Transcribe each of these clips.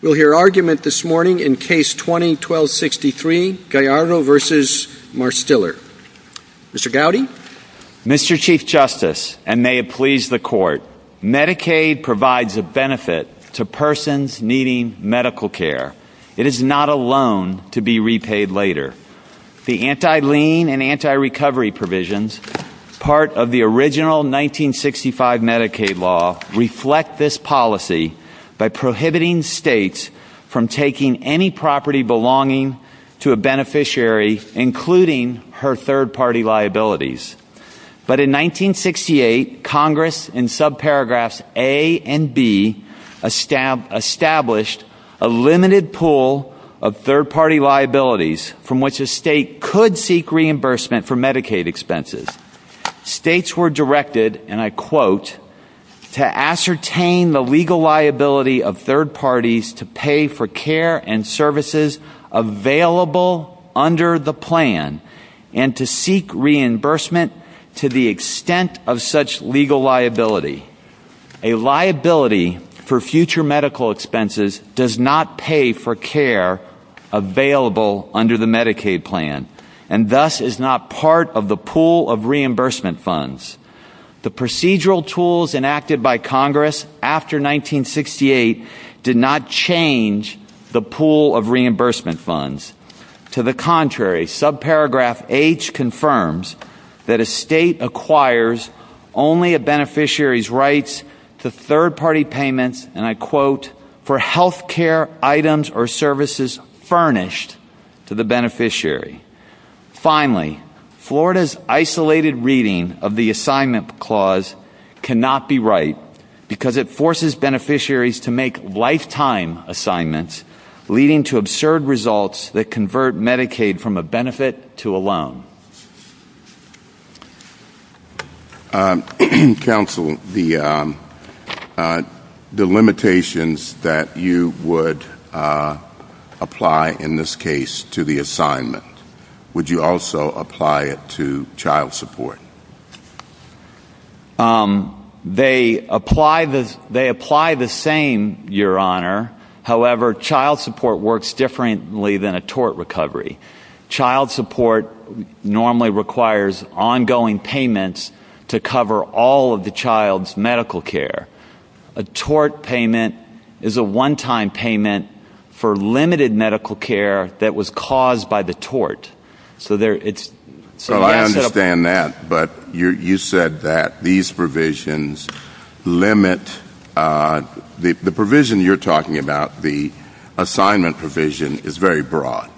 We'll hear argument this morning in Case 20-1263, Gallardo v. Marstiller. Mr. Gowdy? Mr. Chief Justice, and may it please the Court, Medicaid provides a benefit to persons needing medical care. It is not a loan to be repaid later. The anti-lien and anti-recovery provisions, part of the original 1965 Medicaid law, reflect this policy by prohibiting states from taking any property belonging to a beneficiary, including her third-party liabilities. But in 1968, Congress, in subparagraphs A and B, established a limited pool of third-party liabilities from which a state could seek reimbursement for Medicaid expenses. States were directed, and I quote, to ascertain the legal liability of third parties to pay for care and services available under the plan and to seek reimbursement to the extent of such legal liability. A liability for future medical expenses does not pay for care available under the Medicaid plan, and thus is not part of the pool of reimbursement funds. The procedural tools enacted by Congress after 1968 did not change the pool of reimbursement funds. To the contrary, subparagraph H confirms that a state acquires only a beneficiary's rights to third-party payments, and I quote, for health care items or services furnished to the beneficiary. Finally, Florida's isolated reading of the assignment clause cannot be right because it forces beneficiaries to make lifetime assignments, leading to absurd results that convert Medicaid from a benefit to a loan. Counsel, the limitations that you would apply in this case to the assignment, would you also apply it to child support? They apply the same, Your Honor. However, child support works differently than a tort recovery. Child support normally requires ongoing payments to cover all of the child's medical care. A tort payment is a one-time payment for limited medical care that was caused by the tort. I understand that, but you said that the provision you're talking about, the assignment provision, is very broad.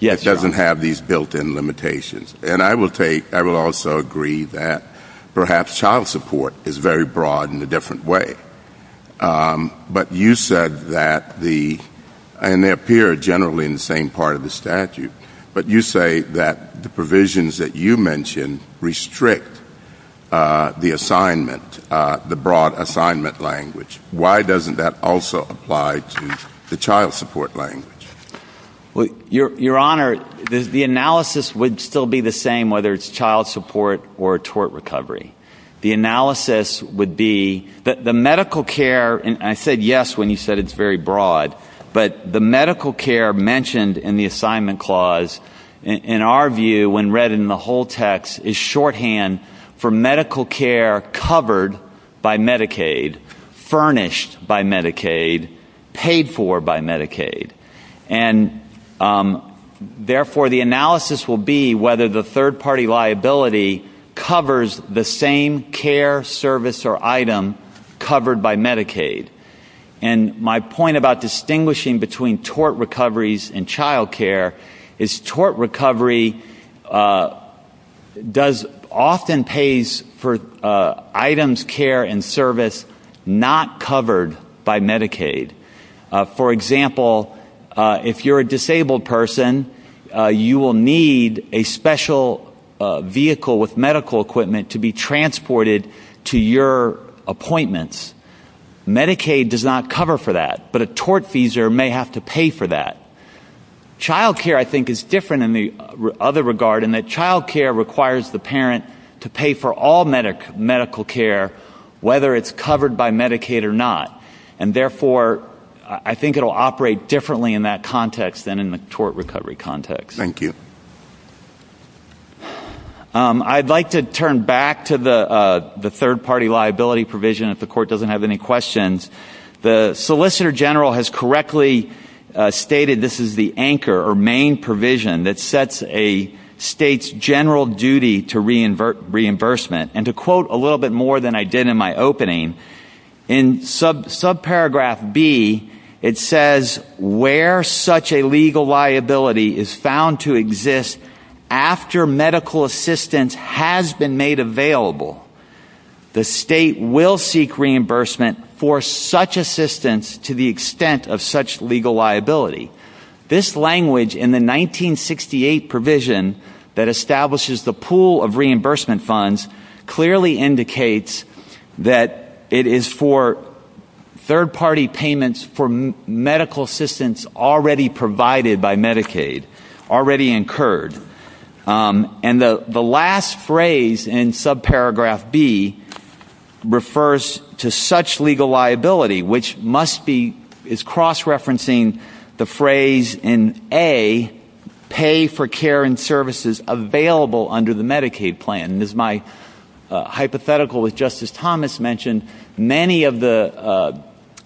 It doesn't have these built-in limitations. And I will take — I will also agree that perhaps child support is very broad in a different way. But you said that the — and they appear generally in the same part of the statute, but you say that the provisions that you mentioned restrict the assignment, the broad assignment language. Why doesn't that also apply to the child support language? Your Honor, the analysis would still be the same, whether it's child support or a tort recovery. The analysis would be that the medical care — and I said yes when you said it's very broad — but the medical care mentioned in the assignment clause, in our view, when read in the whole text, is shorthand for medical care covered by Medicaid, furnished by Medicaid, paid for by Medicaid. And, therefore, the analysis will be whether the third-party liability covers the same care, service, or item covered by Medicaid. And my point about distinguishing between tort recoveries and child care is tort recovery does — often pays for items, care, and service not covered by Medicaid. For example, if you're a disabled person, you will need a special vehicle with medical equipment to be transported to your appointments. Medicaid does not cover for that, but a tort feeser may have to pay for that. Child care, I think, is different in the other regard in that child care requires the parent to pay for all medical care, whether it's covered by Medicaid or not. And, therefore, I think it will operate differently in that context than in the tort recovery context. Thank you. I'd like to turn back to the third-party liability provision, if the Court doesn't have any questions. The Solicitor General has correctly stated this is the anchor or main provision that sets a state's general duty to reimbursement. And to quote a little bit more than I did in my opening, in subparagraph B, it says, where such a legal liability is found to exist after medical assistance has been made available, the state will seek reimbursement for such assistance to the extent of such legal liability. This language in the 1968 provision that establishes the pool of reimbursement funds clearly indicates that it is for third-party payments for medical assistance already provided by Medicaid, already incurred. And the last phrase in subparagraph B refers to such legal liability, which is cross-referencing the phrase in A, pay for care and services available under the Medicaid plan. And as my hypothetical with Justice Thomas mentioned, many of the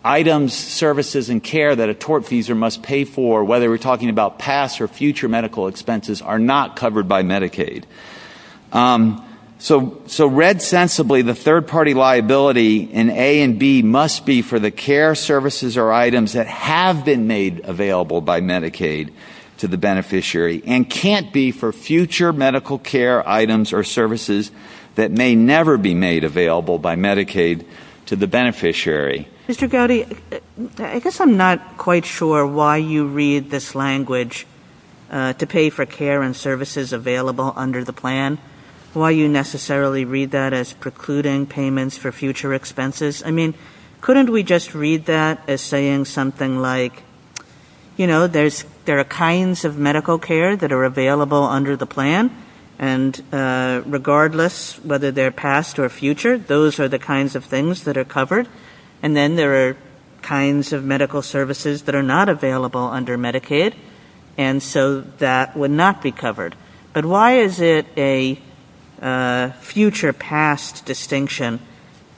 items, services, and care that a tortfeasor must pay for, whether we're talking about past or future medical expenses, are not covered by Medicaid. So read sensibly, the third-party liability in A and B must be for the care, services, or items that have been made available by Medicaid to the beneficiary and can't be for future medical care items or services that may never be made available by Medicaid to the beneficiary. Mr. Gowdy, I guess I'm not quite sure why you read this language to pay for care and services available under the plan, why you necessarily read that as precluding payments for future expenses. I mean, couldn't we just read that as saying something like, you know, there are kinds of medical care that are available under the plan, and regardless whether they're past or future, those are the kinds of things that are covered. And then there are kinds of medical services that are not available under Medicaid, and so that would not be covered. But why is it a future-past distinction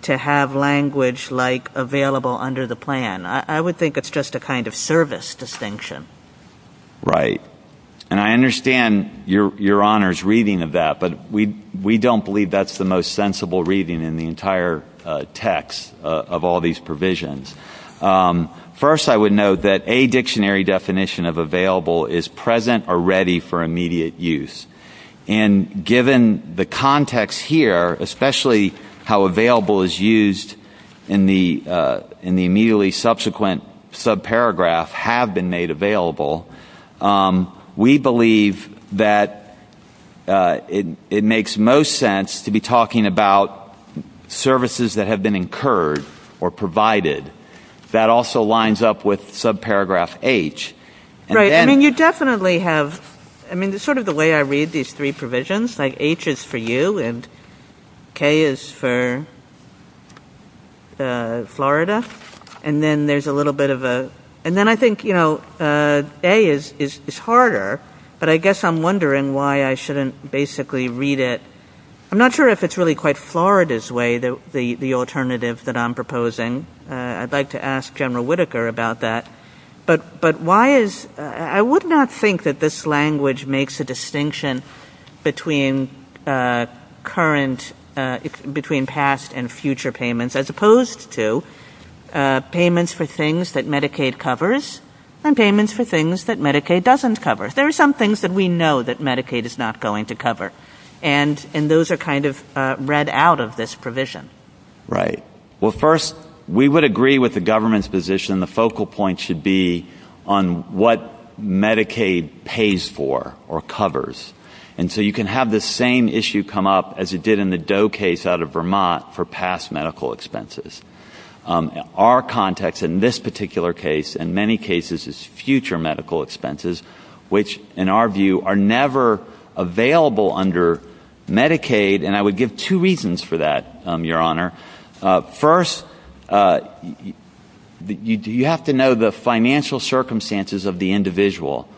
to have language like available under the plan? I would think it's just a kind of service distinction. Right. And I understand Your Honor's reading of that, but we don't believe that's the most sensible reading in the entire text of all these provisions. First, I would note that a dictionary definition of available is present or ready for immediate use. And given the context here, especially how available is used in the immediately subsequent subparagraph, have been made available, we believe that it makes most sense to be talking about services that have been incurred or provided. That also lines up with subparagraph H. Right. I mean, you definitely have, I mean, sort of the way I read these three provisions, like H is for you and K is for Florida. And then there's a little bit of a, and then I think A is harder, but I guess I'm wondering why I shouldn't basically read it. I'm not sure if it's really quite Florida's way, the alternative that I'm proposing. I'd like to ask General Whitaker about that. But why is, I would not think that this language makes a distinction between current, between past and future payments, as opposed to payments for things that Medicaid covers and payments for things that Medicaid doesn't cover. There are some things that we know that Medicaid is not going to cover, and those are kind of read out of this provision. Right. Well, first, we would agree with the government's position, the focal point should be on what Medicaid pays for or covers. And so you can have the same issue come up as it did in the Doe case out of Vermont for past medical expenses. Our context in this particular case, in many cases, is future medical expenses, which, in our view, are never available under Medicaid. And I would give two reasons for that, Your Honor. First, you have to know the financial circumstances of the individual.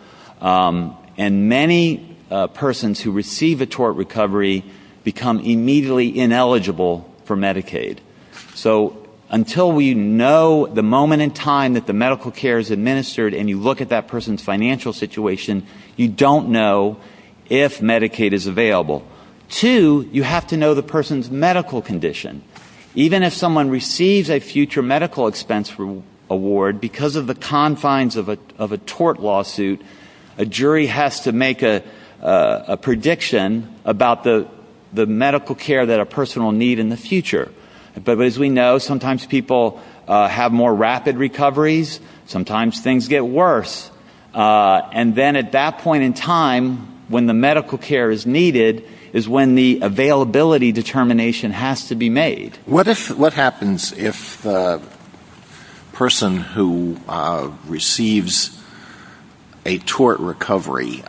And many persons who receive a tort recovery become immediately ineligible for Medicaid. So until we know the moment in time that the medical care is administered and you look at that person's financial situation, you don't know if Medicaid is available. Two, you have to know the person's medical condition. Even if someone receives a future medical expense award because of the confines of a tort lawsuit, a jury has to make a prediction about the medical care that a person will need in the future. But as we know, sometimes people have more rapid recoveries. Sometimes things get worse. And then at that point in time, when the medical care is needed, is when the availability determination has to be made. What happens if a person who receives a tort recovery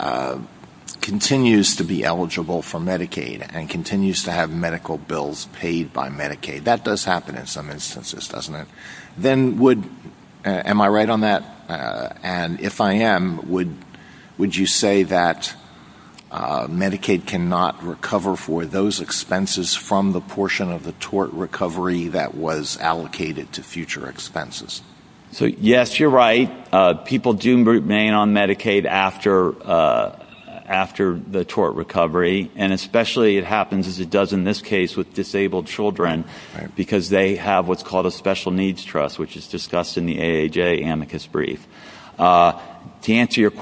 continues to be eligible for Medicaid and continues to have medical bills paid by Medicaid? That does happen in some instances, doesn't it? Am I right on that? And if I am, would you say that Medicaid cannot recover for those expenses from the portion of the tort recovery that was allocated to future expenses? Yes, you're right. People do remain on Medicaid after the tort recovery, and especially it happens as it does in this case with disabled children because they have what's called a special needs trust, which is discussed in the AAJ amicus brief. To answer your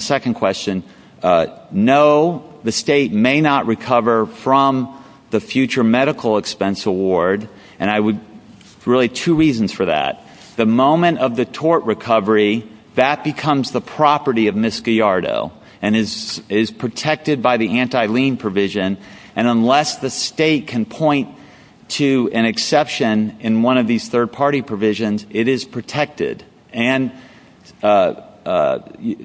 second question, no, the state may not recover from the future medical expense award. And there are really two reasons for that. The moment of the tort recovery, that becomes the property of Misc. and is protected by the anti-lien provision, and unless the state can point to an exception in one of these third-party provisions, it is protected. And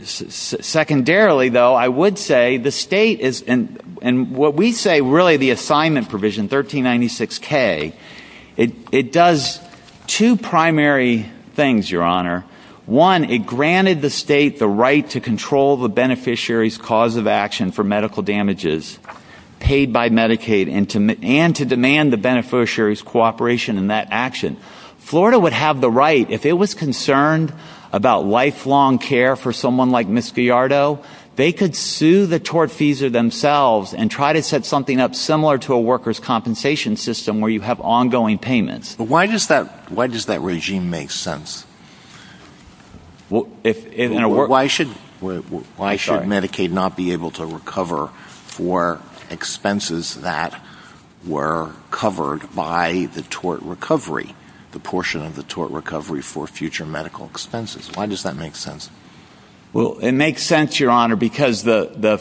secondarily, though, I would say the state is in what we say really the assignment provision, 1396K. It does two primary things, Your Honor. One, it granted the state the right to control the beneficiary's cause of action for medical damages paid by Medicaid and to demand the beneficiary's cooperation in that action. Florida would have the right, if it was concerned about lifelong care for someone like Misc. they could sue the tortfeasor themselves and try to set something up similar to a worker's compensation system where you have ongoing payments. But why does that regime make sense? Why should Medicaid not be able to recover for expenses that were covered by the tort recovery, the portion of the tort recovery for future medical expenses? Why does that make sense? Well, it makes sense, Your Honor, because at the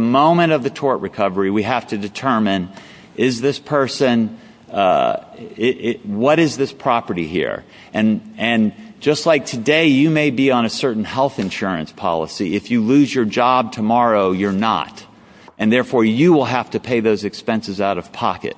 moment of the tort recovery, we have to determine is this person, what is this property here? And just like today, you may be on a certain health insurance policy. If you lose your job tomorrow, you're not. And therefore, you will have to pay those expenses out of pocket.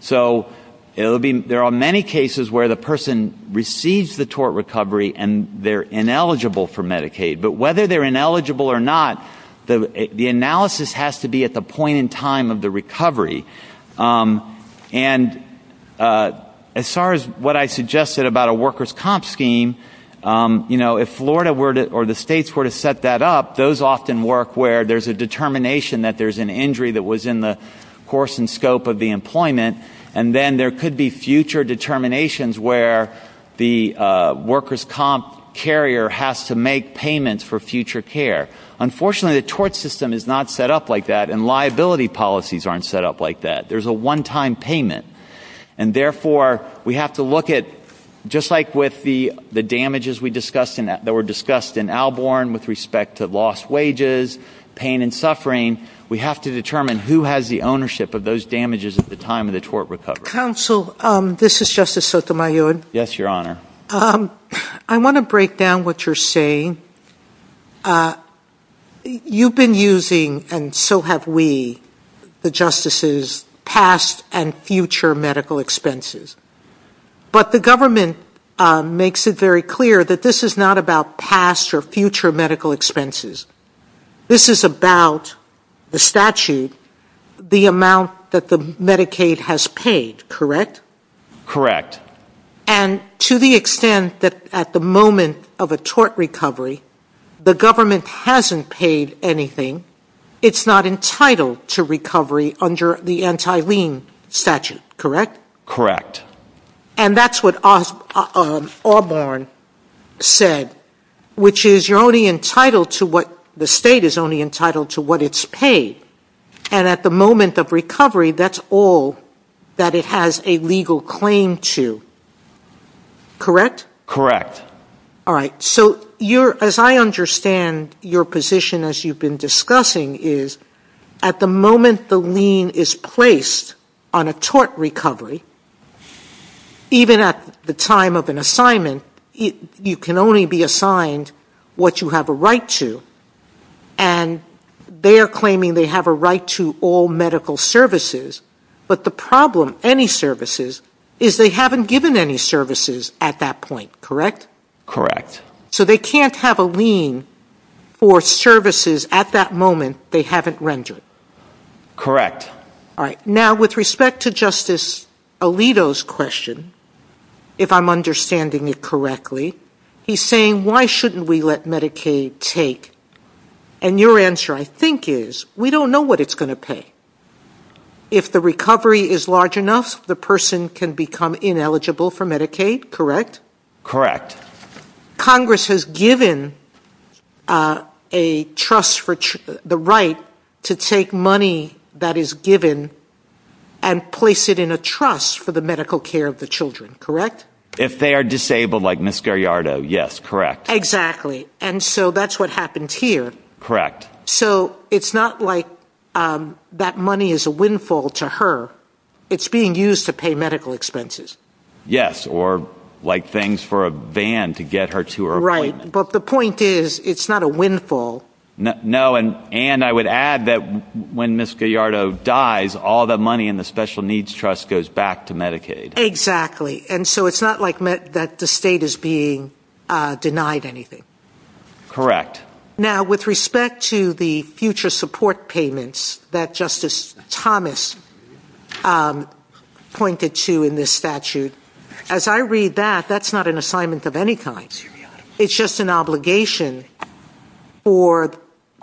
So there are many cases where the person receives the tort recovery and they're ineligible for Medicaid. But whether they're ineligible or not, the analysis has to be at the point in time of the recovery. And as far as what I suggested about a worker's comp scheme, if Florida or the states were to set that up, those often work where there's a determination that there's an injury that was in the course and scope of the employment, and then there could be future determinations where the worker's comp carrier has to make payments for future care. Unfortunately, the tort system is not set up like that, and liability policies aren't set up like that. There's a one-time payment. And therefore, we have to look at, just like with the damages that were discussed in Alborn with respect to lost wages, pain and suffering, we have to determine who has the ownership of those damages at the time of the tort recovery. Counsel, this is Justice Sotomayor. Yes, Your Honor. I want to break down what you're saying. You've been using, and so have we, the justices' past and future medical expenses. But the government makes it very clear that this is not about past or future medical expenses. This is about the statute, the amount that the Medicaid has paid, correct? Correct. And to the extent that at the moment of a tort recovery, the government hasn't paid anything, it's not entitled to recovery under the anti-lien statute, correct? Correct. And that's what Alborn said, which is the state is only entitled to what it's paid. And at the moment of recovery, that's all that it has a legal claim to, correct? Correct. All right. So as I understand your position as you've been discussing, is at the moment the lien is placed on a tort recovery, even at the time of an assignment, you can only be assigned what you have a right to, and they're claiming they have a right to all medical services. But the problem, any services, is they haven't given any services at that point, correct? Correct. So they can't have a lien for services at that moment they haven't rendered. Correct. All right. Now, with respect to Justice Alito's question, if I'm understanding you correctly, he's saying, why shouldn't we let Medicaid take? And your answer, I think, is we don't know what it's going to pay. If the recovery is large enough, the person can become ineligible for Medicaid, correct? Correct. Congress has given the right to take money that is given and place it in a trust for the medical care of the children, correct? If they are disabled, like Mr. Iardo, yes, correct. Exactly. And so that's what happens here. Correct. So it's not like that money is a windfall to her. It's being used to pay medical expenses. Yes, or like things for a van to get her to her appointment. Right. But the point is, it's not a windfall. No, and I would add that when Ms. Gallardo dies, all the money in the special needs trust goes back to Medicaid. Exactly. And so it's not like that the state is being denied anything. Correct. Now, with respect to the future support payments that Justice Thomas pointed to in this statute, as I read that, that's not an assignment of any kind. It's just an obligation for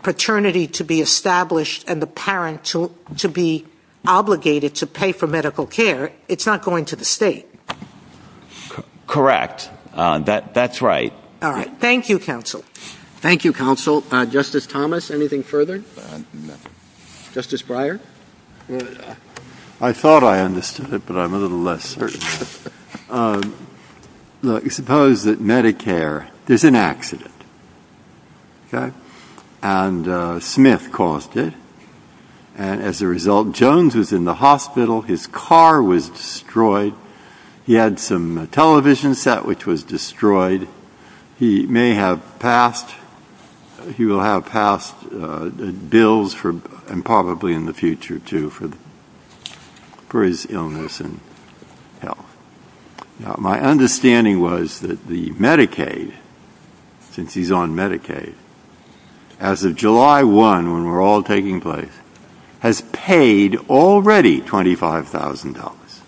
paternity to be established and the parent to be obligated to pay for medical care. It's not going to the state. Correct. That's right. All right. Thank you, counsel. Thank you, counsel. Justice Thomas, anything further? Justice Breyer? I thought I understood it, but I'm a little less certain. Suppose that Medicare is an accident, and Smith caused it. And as a result, Jones is in the hospital. His car was destroyed. He had some television set, which was destroyed. He may have passed. He will have passed bills and probably in the future, too, for his illness and health. My understanding was that the Medicaid, since he's on Medicaid, as of July 1, when we're all taking place, has paid already $25,000.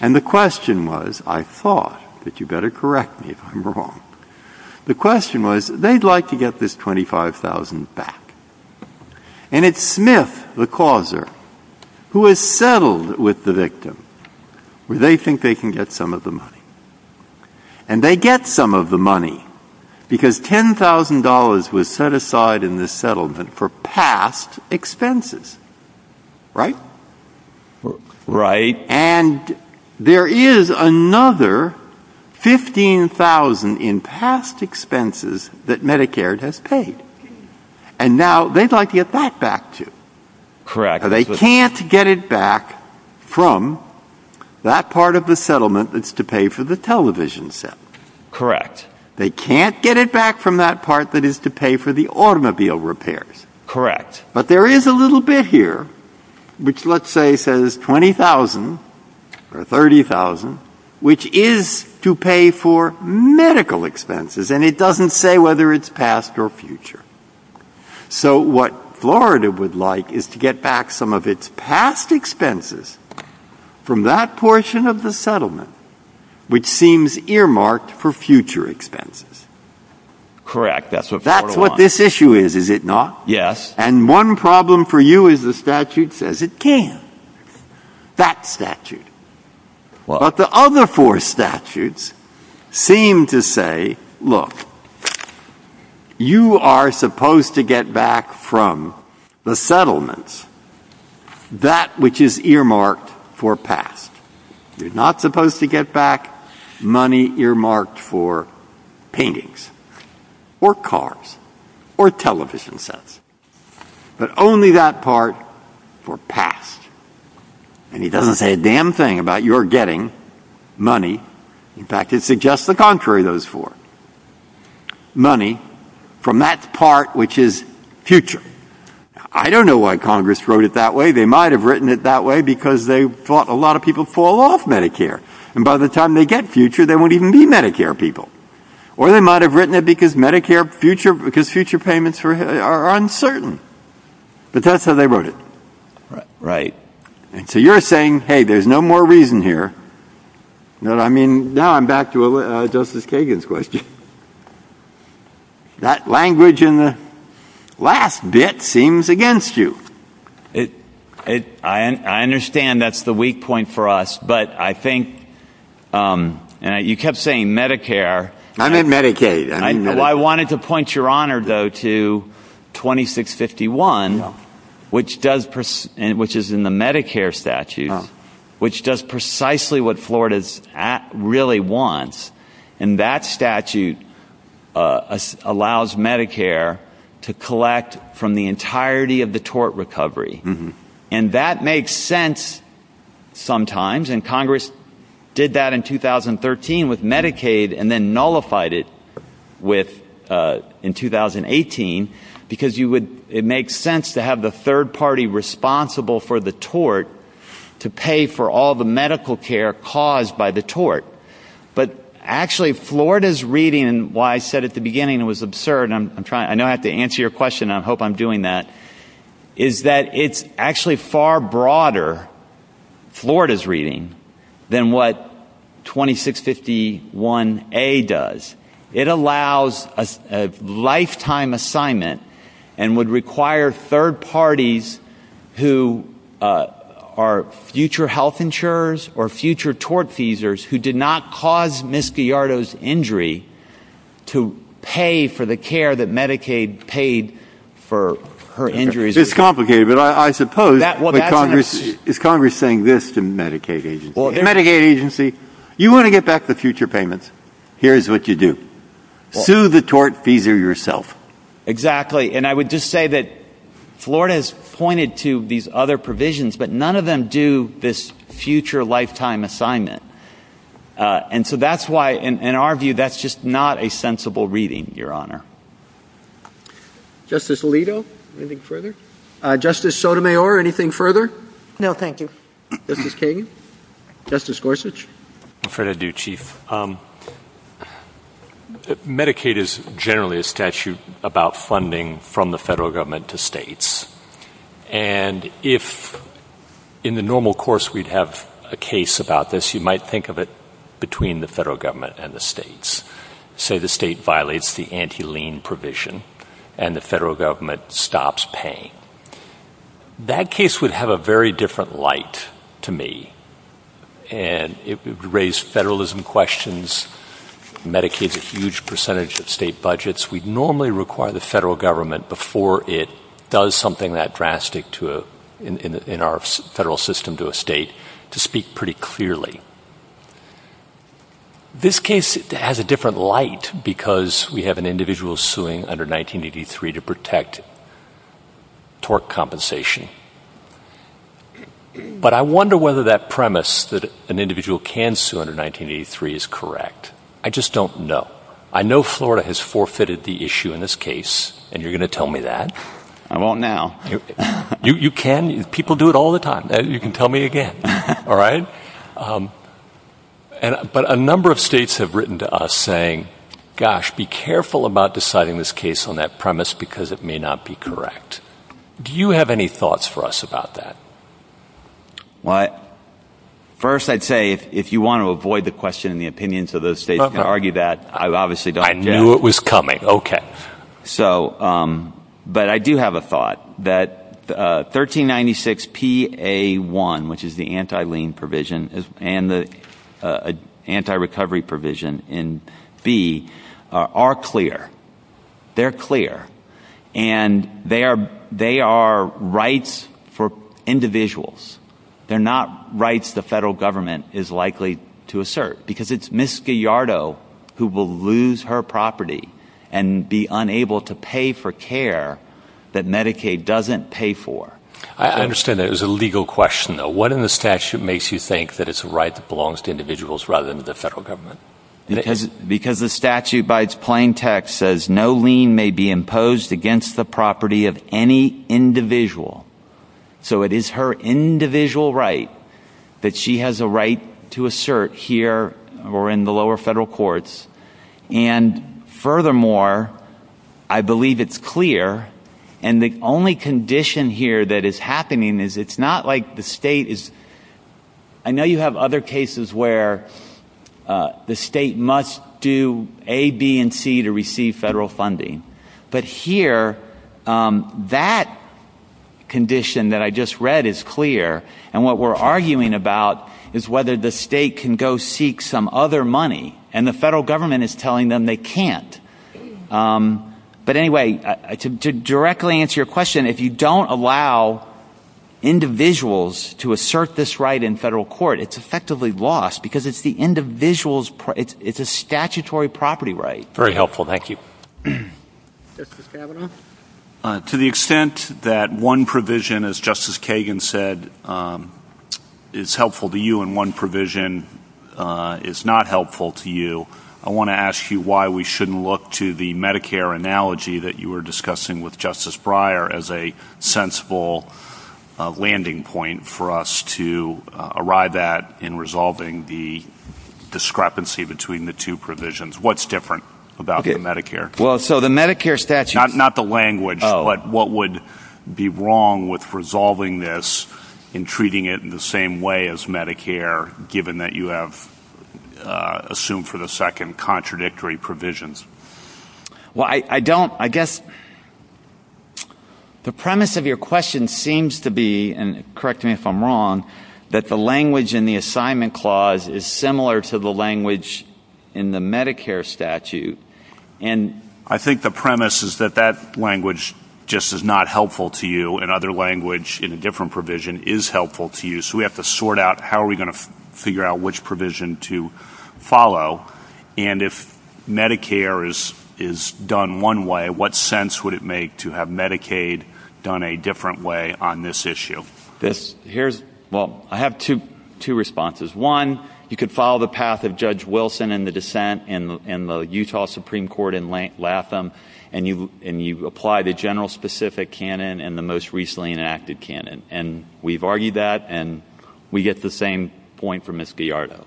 And the question was, I thought, but you better correct me if I'm wrong, the question was, they'd like to get this $25,000 back. And it's Smith, the causer, who has settled with the victim, where they think they can get some of the money. And they get some of the money because $10,000 was set aside in the settlement for past expenses. Right? Right. And there is another $15,000 in past expenses that Medicare has paid. And now they'd like to get that back, too. Correct. But they can't get it back from that part of the settlement that's to pay for the television set. Correct. They can't get it back from that part that is to pay for the automobile repairs. Correct. But there is a little bit here, which let's say says $20,000 or $30,000, which is to pay for medical expenses, and it doesn't say whether it's past or future. So what Florida would like is to get back some of its past expenses from that portion of the settlement, which seems earmarked for future expenses. Correct. That's what's going on. That's what this issue is, is it not? Yes. And one problem for you is the statute says it can, that statute. But the other four statutes seem to say, look, you are supposed to get back from the settlements that which is earmarked for past. You're not supposed to get back money earmarked for paintings or cars or television sets. But only that part for past. And it doesn't say a damn thing about your getting money. In fact, it suggests the contrary of those four. Money from that part which is future. I don't know why Congress wrote it that way. They might have written it that way because they thought a lot of people fall off Medicare. And by the time they get future, they won't even be Medicare people. Or they might have written it because future payments are uncertain. But that's how they wrote it. Right. So you're saying, hey, there's no more reason here. Now I'm back to Justice Kagan's question. That language in the last bit seems against you. I understand that's the weak point for us. But I think you kept saying Medicare. I meant Medicaid. I wanted to point your honor, though, to 2651, which is in the Medicare statute, which does precisely what Florida really wants. And that statute allows Medicare to collect from the entirety of the tort recovery. And that makes sense sometimes. And Congress did that in 2013 with Medicaid and then nullified it in 2018 because it makes sense to have the third party responsible for the tort to pay for all the medical care caused by the tort. But actually, Florida's reading, what I said at the beginning was absurd. I know I have to answer your question. I hope I'm doing that. But what I'm saying is that it's actually far broader, Florida's reading, than what 2651A does. It allows a lifetime assignment and would require third parties who are future health insurers or future tort feesers who did not cause Ms. Gallardo's injury to pay for the care that Medicaid paid for her injuries. It's complicated. But I suppose if Congress is saying this to Medicaid agency, Medicaid agency, you want to get back the future payments. Here's what you do. Sue the tort feeser yourself. Exactly. And I would just say that Florida has pointed to these other provisions, but none of them do this future lifetime assignment. And so that's why, in our view, that's just not a sensible reading, Your Honor. Justice Alito, anything further? Justice Sotomayor, anything further? No, thank you. Justice Kagan? Justice Gorsuch? Fair to do, Chief. Medicaid is generally a statute about funding from the federal government to states. And if in the normal course we'd have a case about this, you might think of it between the federal government and the states. Say the state violates the anti-lien provision and the federal government stops paying. That case would have a very different light to me. And it would raise federalism questions. Medicaid is a huge percentage of state budgets. We'd normally require the federal government, before it does something that drastic in our federal system to a state, to speak pretty clearly. This case has a different light because we have an individual suing under 1983 to protect torque compensation. But I wonder whether that premise that an individual can sue under 1983 is correct. I just don't know. I know Florida has forfeited the issue in this case, and you're going to tell me that. I won't now. You can. People do it all the time. You can tell me again. But a number of states have written to us saying, gosh, be careful about deciding this case on that premise because it may not be correct. Do you have any thoughts for us about that? First, I'd say if you want to avoid the question and the opinions of those states, you can argue that. I knew it was coming. But I do have a thought that 1396PA1, which is the anti-lien provision and the anti-recovery provision in B, are clear. They're clear. And they are rights for individuals. They're not rights the federal government is likely to assert because it's Ms. Gallardo who will lose her property and be unable to pay for care that Medicaid doesn't pay for. I understand that. It was a legal question, though. What in the statute makes you think that it's a right that belongs to individuals rather than the federal government? Because the statute, by its plain text, says no lien may be imposed against the property of any individual. So it is her individual right that she has a right to assert here or in the lower federal courts. And furthermore, I believe it's clear. And the only condition here that is happening is it's not like the state is – I know you have other cases where the state must do A, B, and C to receive federal funding. But here, that condition that I just read is clear. And what we're arguing about is whether the state can go seek some other money. And the federal government is telling them they can't. But anyway, to directly answer your question, if you don't allow individuals to assert this right in federal court, it's effectively lost because it's the individual's – it's a statutory property right. Very helpful. Thank you. Justice Kavanaugh? To the extent that one provision, as Justice Kagan said, is helpful to you and one provision is not helpful to you, I want to ask you why we shouldn't look to the Medicare analogy that you were discussing with Justice Breyer as a sensible landing point for us to arrive at in resolving the discrepancy between the two provisions. What's different about the Medicare? Well, so the Medicare statute – Not the language, but what would be wrong with resolving this and treating it in the same way as Medicare, given that you have assumed for the second contradictory provisions? Well, I don't – I guess the premise of your question seems to be – and correct me if I'm wrong – that the language in the assignment clause is similar to the language in the Medicare statute. And I think the premise is that that language just is not helpful to you and other language in a different provision is helpful to you. So we have to sort out how are we going to figure out which provision to follow. And if Medicare is done one way, what sense would it make to have Medicaid done a different way on this issue? Well, I have two responses. One, you could follow the path of Judge Wilson in the dissent in the Utah Supreme Court in Latham and you apply the general specific canon and the most recently enacted canon. And we've argued that and we get the same point from Ms. Gallardo.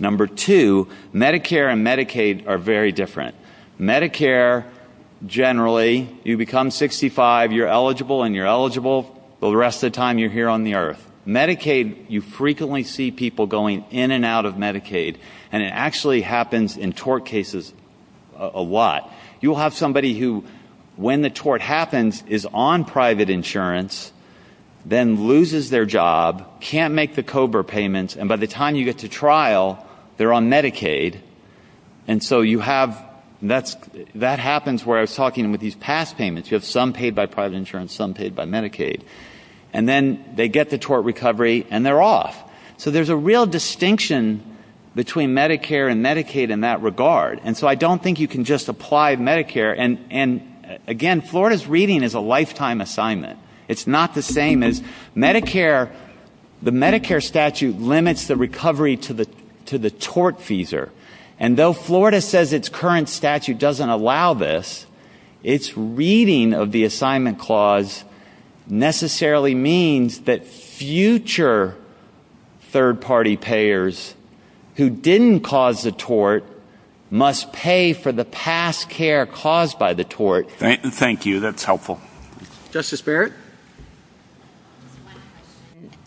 Number two, Medicare and Medicaid are very different. Medicare, generally, you become 65, you're eligible and you're eligible. The rest of the time, you're here on the earth. Medicaid, you frequently see people going in and out of Medicaid and it actually happens in tort cases a lot. You'll have somebody who, when the tort happens, is on private insurance, then loses their job, can't make the COBRA payments, and by the time you get to trial, they're on Medicaid. And so you have – that happens where I was talking with these past payments. You have some paid by private insurance, some paid by Medicaid. And then they get the tort recovery and they're off. So there's a real distinction between Medicare and Medicaid in that regard. And so I don't think you can just apply Medicare. And, again, Florida's reading is a lifetime assignment. It's not the same as Medicare. The Medicare statute limits the recovery to the tort feeser. And though Florida says its current statute doesn't allow this, its reading of the assignment clause necessarily means that future third-party payers who didn't cause the tort must pay for the past care caused by the tort. Thank you. That's helpful. Justice Barrett?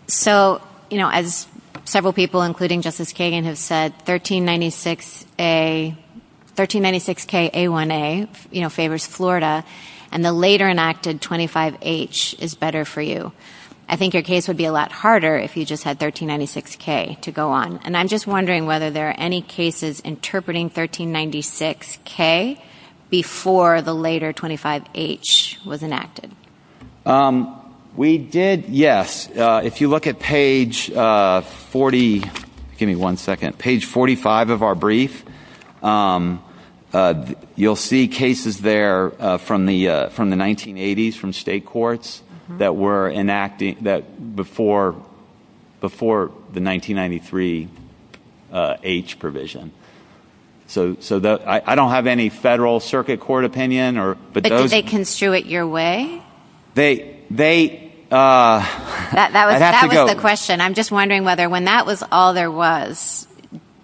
So, you know, as several people, including Justice Kagan, have said, 1396K-A1A favors Florida, and the later-enacted 25H is better for you. I think your case would be a lot harder if you just had 1396K to go on. And I'm just wondering whether there are any cases interpreting 1396K before the later 25H was enacted. We did, yes. If you look at page 40, give me one second, page 45 of our brief, you'll see cases there from the 1980s from state courts that were enacted before the 1993H provision. So I don't have any federal circuit court opinion. But could they construe it your way? That was the question. I'm just wondering whether when that was all there was,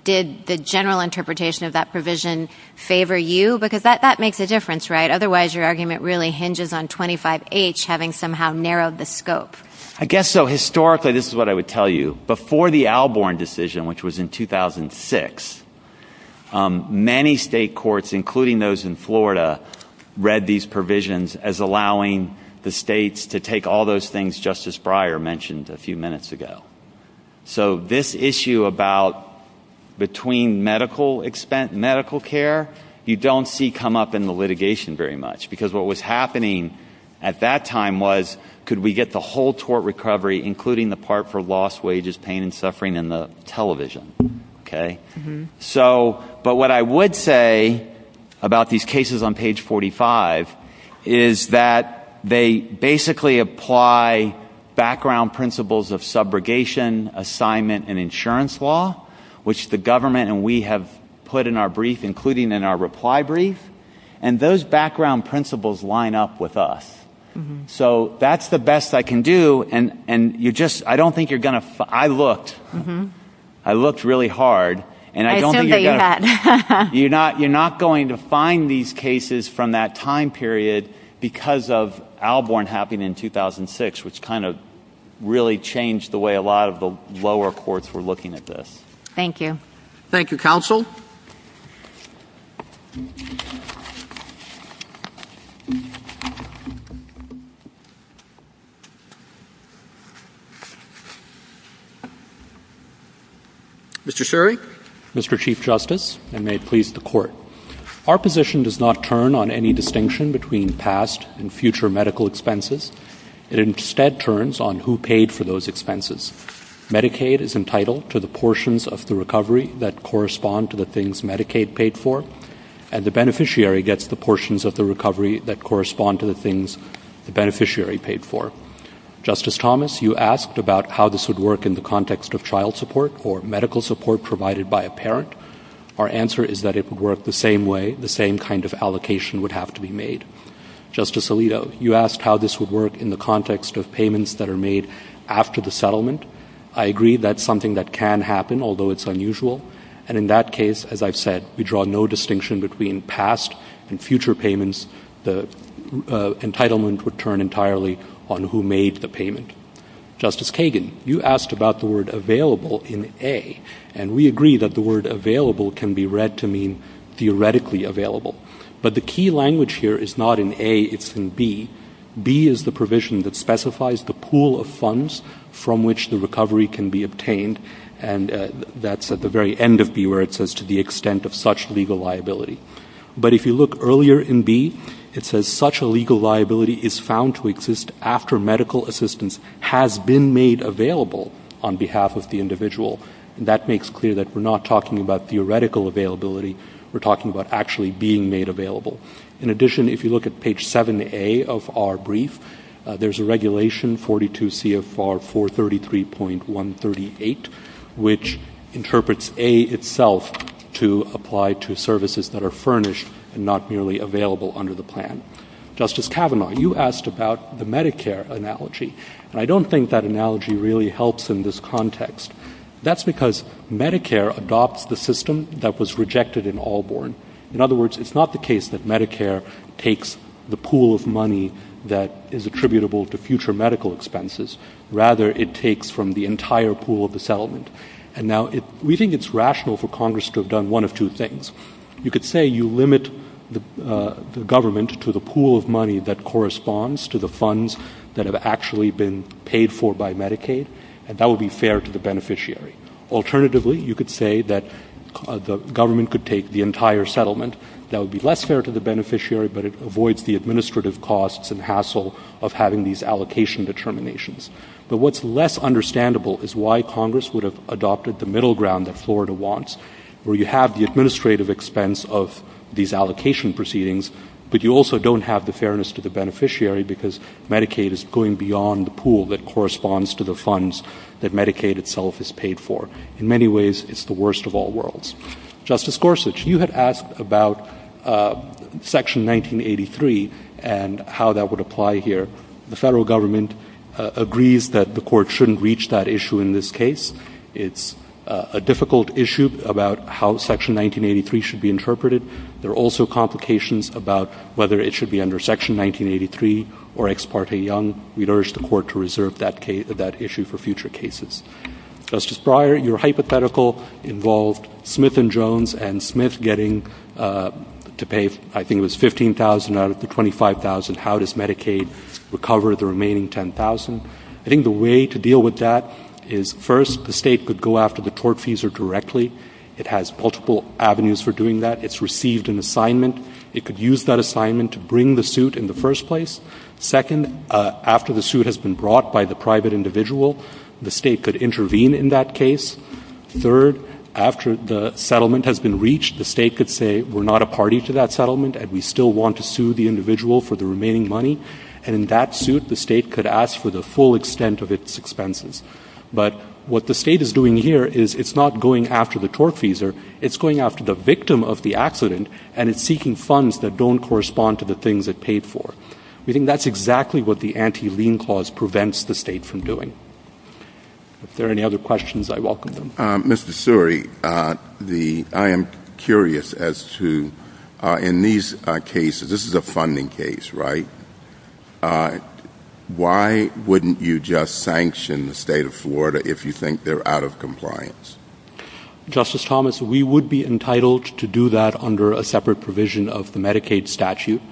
did the general interpretation of that provision favor you? Because that makes a difference, right? Otherwise, your argument really hinges on 25H having somehow narrowed the scope. I guess so. Historically, this is what I would tell you. Before the Alborn decision, which was in 2006, many state courts, including those in Florida, read these provisions as allowing the states to take all those things Justice Breyer mentioned a few minutes ago. So this issue about between medical care, you don't see come up in the litigation very much. Because what was happening at that time was, could we get the whole tort recovery, including the part for lost wages, pain, and suffering in the television? But what I would say about these cases on page 45 is that they basically apply background principles of subrogation, assignment, and insurance law, which the government and we have put in our brief, including in our reply brief. And those background principles line up with us. So that's the best I can do. I looked. I looked really hard. I didn't know you had. You're not going to find these cases from that time period because of Alborn happening in 2006, which kind of really changed the way a lot of the lower courts were looking at this. Thank you. Thank you, counsel. Thank you. Mr. Sherry. Mr. Chief Justice, and may it please the Court. Our position does not turn on any distinction between past and future medical expenses. It instead turns on who paid for those expenses. Medicaid is entitled to the portions of the recovery that correspond to the things Medicaid paid for, and the beneficiary gets the portions of the recovery that correspond to the things the beneficiary paid for. Justice Thomas, you asked about how this would work in the context of child support or medical support provided by a parent. Our answer is that it would work the same way. The same kind of allocation would have to be made. Justice Alito, you asked how this would work in the context of payments that are made after the settlement. I agree that's something that can happen, although it's unusual. And in that case, as I've said, we draw no distinction between past and future payments. The entitlement would turn entirely on who made the payment. Justice Kagan, you asked about the word available in A, and we agree that the word available can be read to mean theoretically available. But the key language here is not in A, it's in B. B is the provision that specifies the pool of funds from which the recovery can be obtained, and that's at the very end of B where it says to the extent of such legal liability. But if you look earlier in B, it says such a legal liability is found to exist after medical assistance has been made available on behalf of the individual. That makes clear that we're not talking about theoretical availability. We're talking about actually being made available. In addition, if you look at page 7A of our brief, there's a regulation, 42 CFR 433.138, which interprets A itself to apply to services that are furnished and not merely available under the plan. Justice Kavanaugh, you asked about the Medicare analogy, and I don't think that analogy really helps in this context. That's because Medicare adopts the system that was rejected in Allborn. In other words, it's not the case that Medicare takes the pool of money that is attributable to future medical expenses. Rather, it takes from the entire pool of the settlement. And now we think it's rational for Congress to have done one of two things. You could say you limit the government to the pool of money that corresponds to the funds that have actually been paid for by Medicaid, and that would be fair to the beneficiary. Alternatively, you could say that the government could take the entire settlement. That would be less fair to the beneficiary, but it avoids the administrative costs and hassle of having these allocation determinations. But what's less understandable is why Congress would have adopted the middle ground that Florida wants, where you have the administrative expense of these allocation proceedings, but you also don't have the fairness to the beneficiary because Medicaid is going beyond the pool that corresponds to the funds that Medicaid itself is paid for. In many ways, it's the worst of all worlds. Justice Gorsuch, you had asked about Section 1983 and how that would apply here. The federal government agrees that the court shouldn't reach that issue in this case. It's a difficult issue about how Section 1983 should be interpreted. There are also complications about whether it should be under Section 1983 or Ex parte Young. We'd urge the court to reserve that issue for future cases. Justice Breyer, your hypothetical involved Smith and Jones and Smith getting to pay, I think it was, $15,000 out of the $25,000. How does Medicaid recover the remaining $10,000? I think the way to deal with that is, first, the state could go after the tortfeasor directly. It has multiple avenues for doing that. It's received an assignment. It could use that assignment to bring the suit in the first place. Second, after the suit has been brought by the private individual, the state could intervene in that case. Third, after the settlement has been reached, the state could say, we're not a party to that settlement, and we still want to sue the individual for the remaining money. And in that suit, the state could ask for the full extent of its expenses. But what the state is doing here is it's not going after the tortfeasor. It's going after the victim of the accident, and it's seeking funds that don't correspond to the things it paid for. We think that's exactly what the anti-lien clause prevents the state from doing. If there are any other questions, I welcome them. Mr. Suri, I am curious as to, in these cases, this is a funding case, right? Why wouldn't you just sanction the state of Florida if you think they're out of compliance? Justice Thomas, we would be entitled to do that under a separate provision of the Medicaid statute.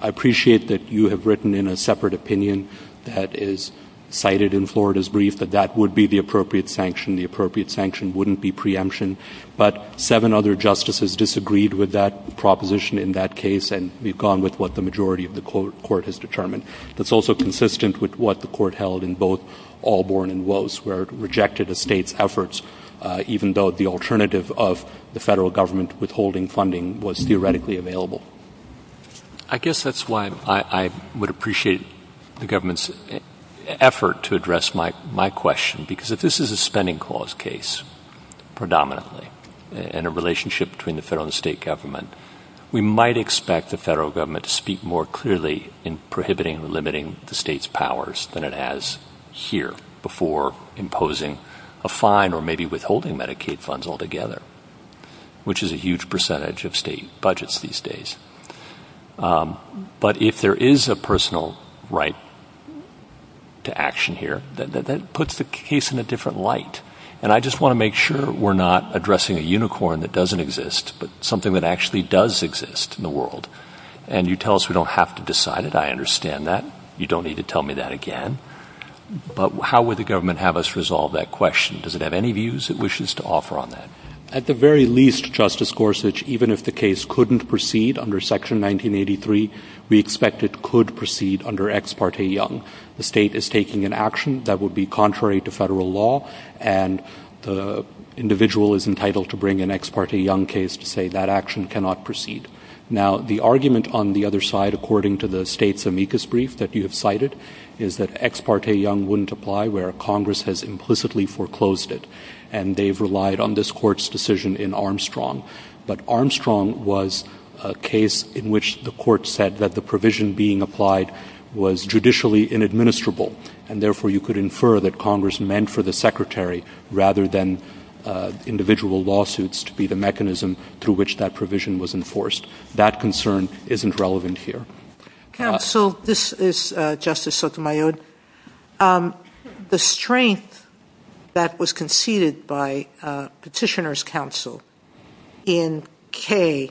I appreciate that you have written in a separate opinion that is cited in Florida's brief, that that would be the appropriate sanction. The appropriate sanction wouldn't be preemption. But seven other justices disagreed with that proposition in that case, and we've gone with what the majority of the court has determined. That's also consistent with what the court held in both Allborn and Woese, where it rejected the state's efforts, even though the alternative of the federal government withholding funding was theoretically available. I guess that's why I would appreciate the government's effort to address my question, because if this is a spending clause case, predominantly, and a relationship between the federal and state government, we might expect the federal government to speak more clearly in prohibiting and limiting the state's powers than it has here before imposing a fine or maybe withholding Medicaid funds altogether, which is a huge percentage of state budgets these days. But if there is a personal right to action here, that puts the case in a different light. And I just want to make sure we're not addressing a unicorn that doesn't exist, but something that actually does exist in the world. And you tell us we don't have to decide it. I understand that. You don't need to tell me that again. But how would the government have us resolve that question? Does it have any views it wishes to offer on that? At the very least, Justice Gorsuch, even if the case couldn't proceed under Section 1983, we expect it could proceed under Ex parte Young. The state is taking an action that would be contrary to federal law, and the individual is entitled to bring an Ex parte Young case to say that action cannot proceed. Now, the argument on the other side, according to the state's amicus brief that you had cited, is that Ex parte Young wouldn't apply where Congress has implicitly foreclosed it, and they've relied on this court's decision in Armstrong. But Armstrong was a case in which the court said that the provision being applied was judicially inadministrable, and therefore you could infer that Congress meant for the secretary rather than individual lawsuits to be the mechanism to which that provision was enforced. That concern isn't relevant here. Counsel, this is Justice Sotomayor. The strength that was conceded by Petitioner's Counsel in K,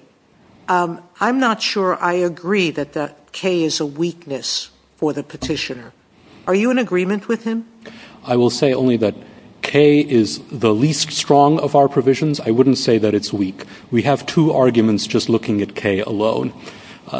I'm not sure I agree that K is a weakness for the petitioner. Are you in agreement with him? I will say only that K is the least strong of our provisions. I wouldn't say that it's weak. We have two arguments just looking at K alone.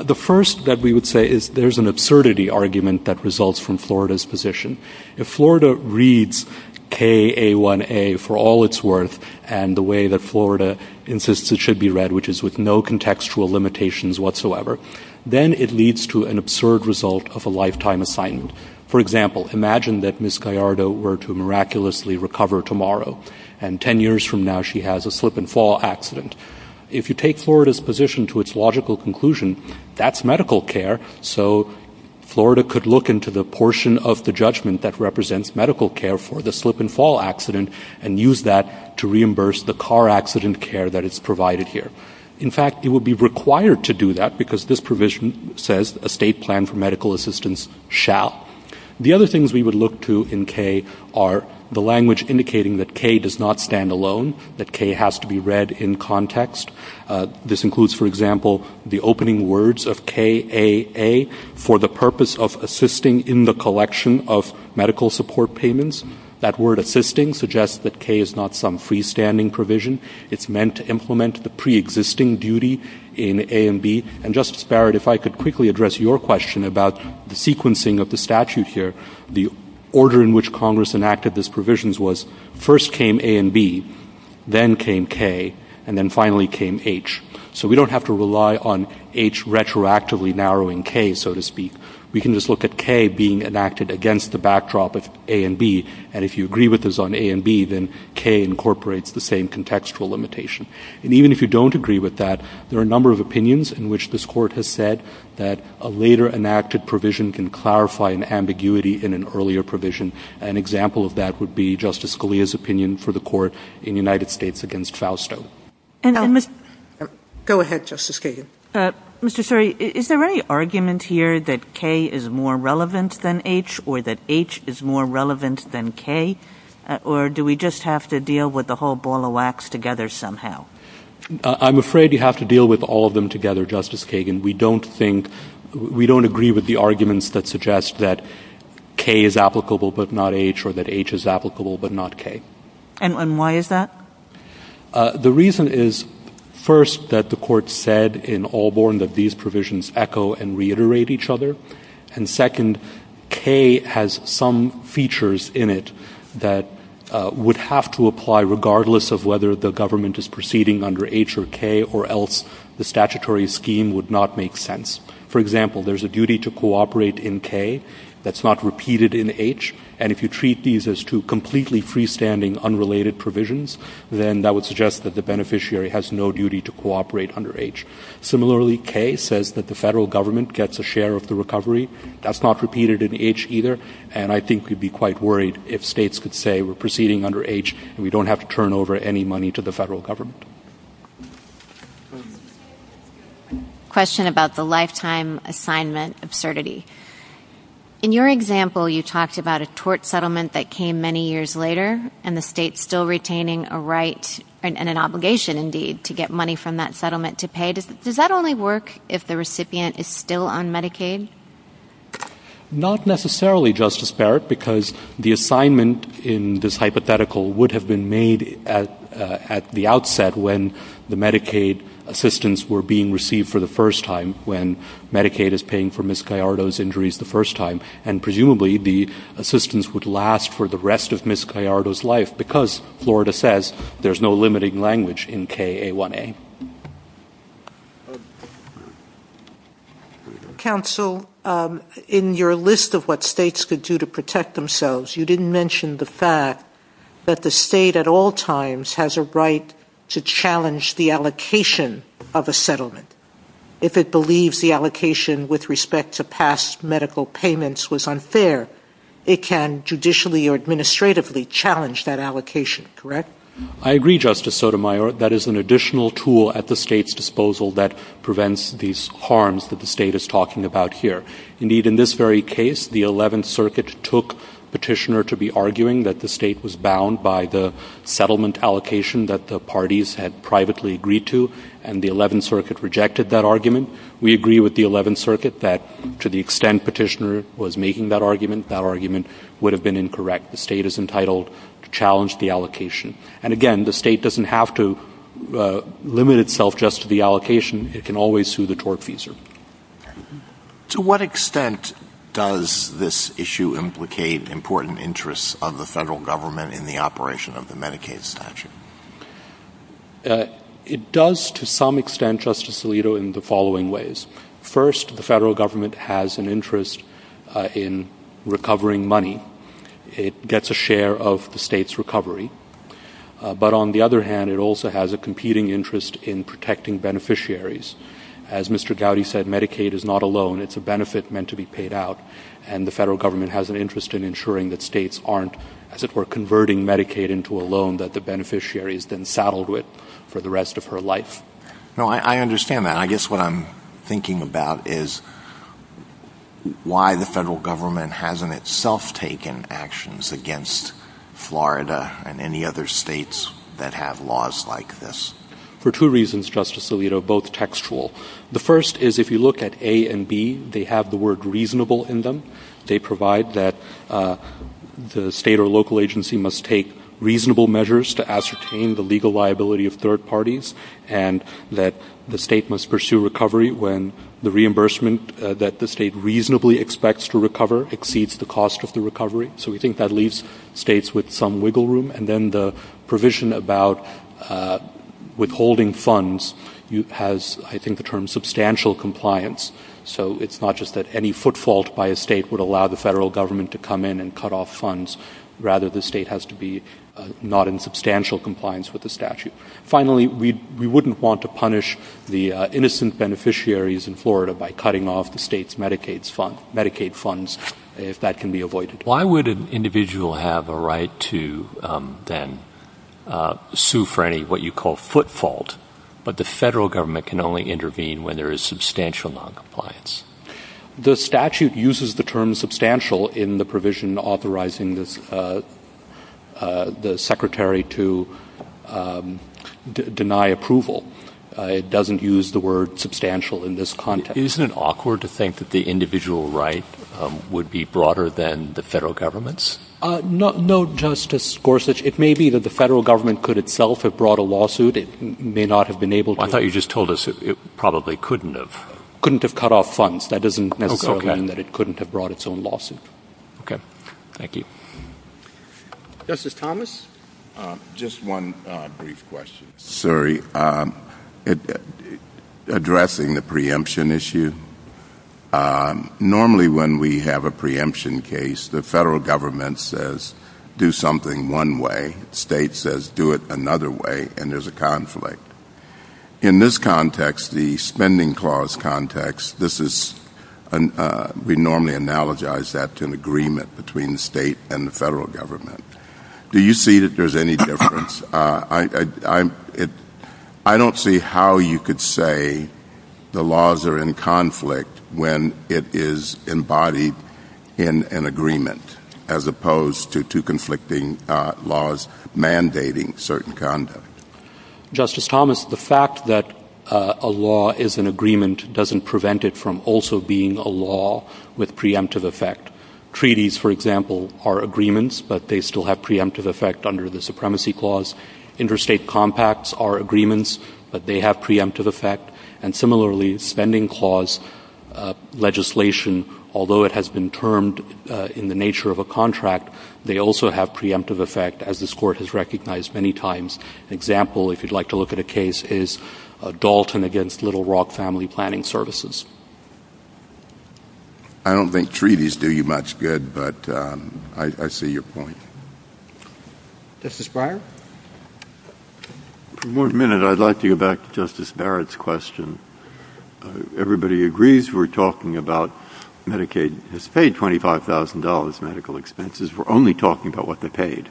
The first that we would say is there's an absurdity argument that results from Florida's position. If Florida reads K-A-1-A for all its worth and the way that Florida insists it should be read, which is with no contextual limitations whatsoever, then it leads to an absurd result of a lifetime assignment. For example, imagine that Ms. Gallardo were to miraculously recover tomorrow, and 10 years from now she has a slip-and-fall accident. If you take Florida's position to its logical conclusion, that's medical care, so Florida could look into the portion of the judgment that represents medical care for the slip-and-fall accident and use that to reimburse the car accident care that is provided here. In fact, it would be required to do that because this provision says a state plan for medical assistance shall. The other things we would look to in K are the language indicating that K does not stand alone, that K has to be read in context. This includes, for example, the opening words of K-A-A, for the purpose of assisting in the collection of medical support payments. That word assisting suggests that K is not some freestanding provision. It's meant to implement the preexisting duty in A and B. And Justice Barrett, if I could quickly address your question about the sequencing of the statute here, the order in which Congress enacted these provisions was first came A and B, then came K, and then finally came H. So we don't have to rely on H retroactively narrowing K, so to speak. We can just look at K being enacted against the backdrop of A and B, and if you agree with this on A and B, then K incorporates the same contextual limitation. And even if you don't agree with that, there are a number of opinions in which this court has said that a later enacted provision can clarify an ambiguity in an earlier provision. An example of that would be Justice Scalia's opinion for the court in the United States against Fausto. Go ahead, Justice Kagan. Mr. Suri, is there any argument here that K is more relevant than H or that H is more relevant than K, or do we just have to deal with the whole ball of wax together somehow? I'm afraid you have to deal with all of them together, Justice Kagan. We don't agree with the arguments that suggest that K is applicable but not H or that H is applicable but not K. And why is that? The reason is, first, that the court said in Allborn that these provisions echo and reiterate each other, and second, K has some features in it that would have to apply regardless of whether the government is proceeding under H or K or else the statutory scheme would not make sense. For example, there's a duty to cooperate in K that's not repeated in H, and if you treat these as two completely freestanding, unrelated provisions, then that would suggest that the beneficiary has no duty to cooperate under H. Similarly, K says that the federal government gets a share of the recovery. That's not repeated in H either, and I think we'd be quite worried if states could say we're proceeding under H and we don't have to turn over any money to the federal government. Question about the lifetime assignment absurdity. In your example, you talked about a tort settlement that came many years later and the state's still retaining a right and an obligation, indeed, to get money from that settlement to pay. Does that only work if the recipient is still on Medicaid? Not necessarily, Justice Barrett, because the assignment in this hypothetical would have been made at the outset when the Medicaid assistance were being received for the first time, when Medicaid is paying for Ms. Gallardo's injuries the first time, and presumably the assistance would last for the rest of Ms. Gallardo's life because Florida says there's no limiting language in KA1A. Counsel, in your list of what states could do to protect themselves, you didn't mention the fact that the state at all times has a right to challenge the allocation of a settlement if it believes the allocation with respect to past medical payments was unfair. It can judicially or administratively challenge that allocation, correct? I agree, Justice Sotomayor. That is an additional tool at the state's disposal that prevents these harms that the state is talking about here. Indeed, in this very case, the Eleventh Circuit took Petitioner to be arguing that the state was bound by the settlement allocation that the parties had privately agreed to, and the Eleventh Circuit rejected that argument. We agree with the Eleventh Circuit that to the extent Petitioner was making that argument, that argument would have been incorrect. The state is entitled to challenge the allocation. And again, the state doesn't have to limit itself just to the allocation. It can always sue the tortfeasor. To what extent does this issue implicate important interests of the federal government in the operation of the Medicaid statute? It does to some extent, Justice Alito, in the following ways. First, the federal government has an interest in recovering money. It gets a share of the state's recovery. But on the other hand, it also has a competing interest in protecting beneficiaries. As Mr. Gowdy said, Medicaid is not a loan. It's a benefit meant to be paid out. And the federal government has an interest in ensuring that states aren't, as it were, converting Medicaid into a loan that the beneficiary has been saddled with for the rest of her life. I understand that. I guess what I'm thinking about is why the federal government hasn't itself taken actions against Florida and any other states that have laws like this. For two reasons, Justice Alito, both textual. The first is if you look at A and B, they have the word reasonable in them. They provide that the state or local agency must take reasonable measures to ascertain the legal liability of third parties and that the state must pursue recovery when the reimbursement that the state reasonably expects to recover exceeds the cost of the recovery. So we think that leaves states with some wiggle room. And then the provision about withholding funds has, I think, the term substantial compliance. So it's not just that any footfault by a state would allow the federal government to come in and cut off funds. Rather, the state has to be not in substantial compliance with the statute. Finally, we wouldn't want to punish the innocent beneficiaries in Florida by cutting off the state's Medicaid funds if that can be avoided. Why would an individual have a right to then sue for what you call a footfault, but the federal government can only intervene when there is substantial noncompliance? The statute uses the term substantial in the provision authorizing the secretary to deny approval. It doesn't use the word substantial in this context. Isn't it awkward to think that the individual right would be broader than the federal government's? No, Justice Gorsuch. It may be that the federal government could itself have brought a lawsuit. It may not have been able to. I thought you just told us it probably couldn't have. Couldn't have cut off funds. That doesn't necessarily mean that it couldn't have brought its own lawsuit. Okay. Thank you. Justice Thomas? Just one brief question. Sorry. Addressing the preemption issue, normally when we have a preemption case, the federal government says do something one way. The state says do it another way, and there's a conflict. In this context, the spending clause context, we normally analogize that to an agreement between the state and the federal government. Do you see that there's any difference? I don't see how you could say the laws are in conflict when it is embodied in an agreement, as opposed to conflicting laws mandating certain conduct. Justice Thomas, the fact that a law is an agreement doesn't prevent it from also being a law with preemptive effect. Treaties, for example, are agreements, but they still have preemptive effect under the supremacy clause. Interstate compacts are agreements, but they have preemptive effect. And similarly, spending clause legislation, although it has been termed in the nature of a contract, they also have preemptive effect, as this Court has recognized many times. An example, if you'd like to look at a case, is Dalton against Little Rock Family Planning Services. I don't think treaties do you much good, but I see your point. Justice Breyer? For one minute, I'd like to go back to Justice Barrett's question. Everybody agrees we're talking about Medicaid has paid $25,000 medical expenses. We're only talking about what they paid.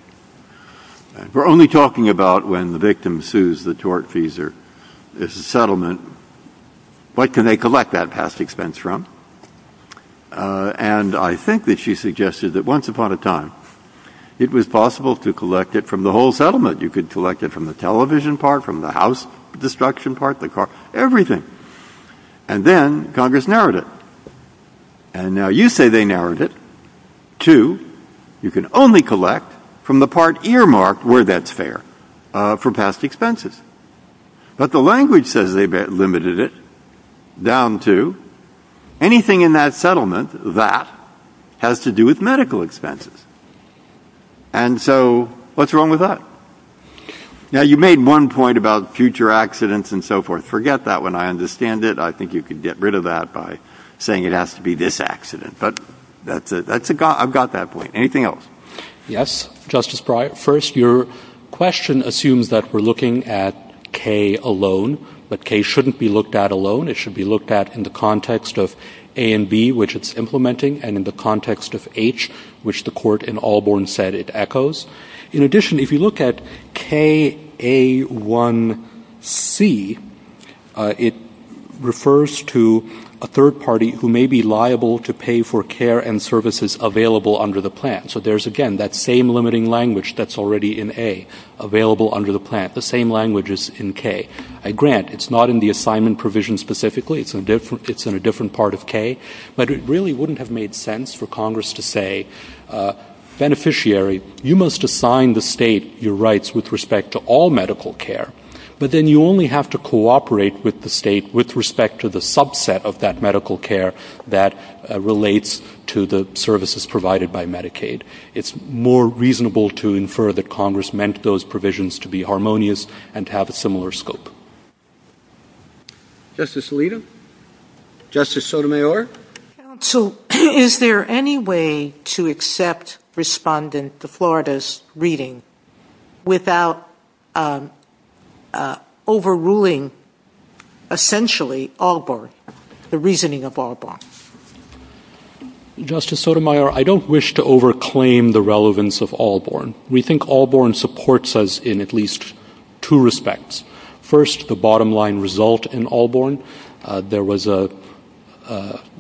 We're only talking about when the victim sues the tortfeasor. And Justice Barrett's question is, what can they collect that past expense from? And I think that she suggested that once upon a time, it was possible to collect it from the whole settlement. You could collect it from the television part, from the house destruction part, the car, everything. And then Congress narrowed it. And now you say they narrowed it to you can only collect from the part earmarked where that's fair, for past expenses. But the language says they've limited it down to anything in that settlement that has to do with medical expenses. And so what's wrong with that? Now, you made one point about future accidents and so forth. Forget that one. I understand it. I think you can get rid of that by saying it has to be this accident. But that's it. I've got that point. Anything else? Yes, Justice Barrett. First, your question assumes that we're looking at K alone, but K shouldn't be looked at alone. It should be looked at in the context of A and B, which it's implementing, and in the context of H, which the court in Albarn said it echoes. In addition, if you look at KA1C, it refers to a third party who may be liable to pay for care and services available under the plan. So there's, again, that same limiting language that's already in A, available under the plan. The same language is in K. A grant, it's not in the assignment provision specifically. It's in a different part of K. But it really wouldn't have made sense for Congress to say, beneficiary, you must assign the state your rights with respect to all medical care. But then you only have to cooperate with the state with respect to the subset of that medical care that relates to the services provided by Medicaid. It's more reasonable to infer that Congress meant those provisions to be harmonious and have a similar scope. Justice Alito? Justice Sotomayor? Counsel, is there any way to accept Respondent DeFlorida's reading without overruling, essentially, Albarn, the reasoning of Albarn? Justice Sotomayor, I don't wish to over-claim the relevance of Albarn. We think Albarn supports us in at least two respects. First, the bottom line result in Albarn. There was a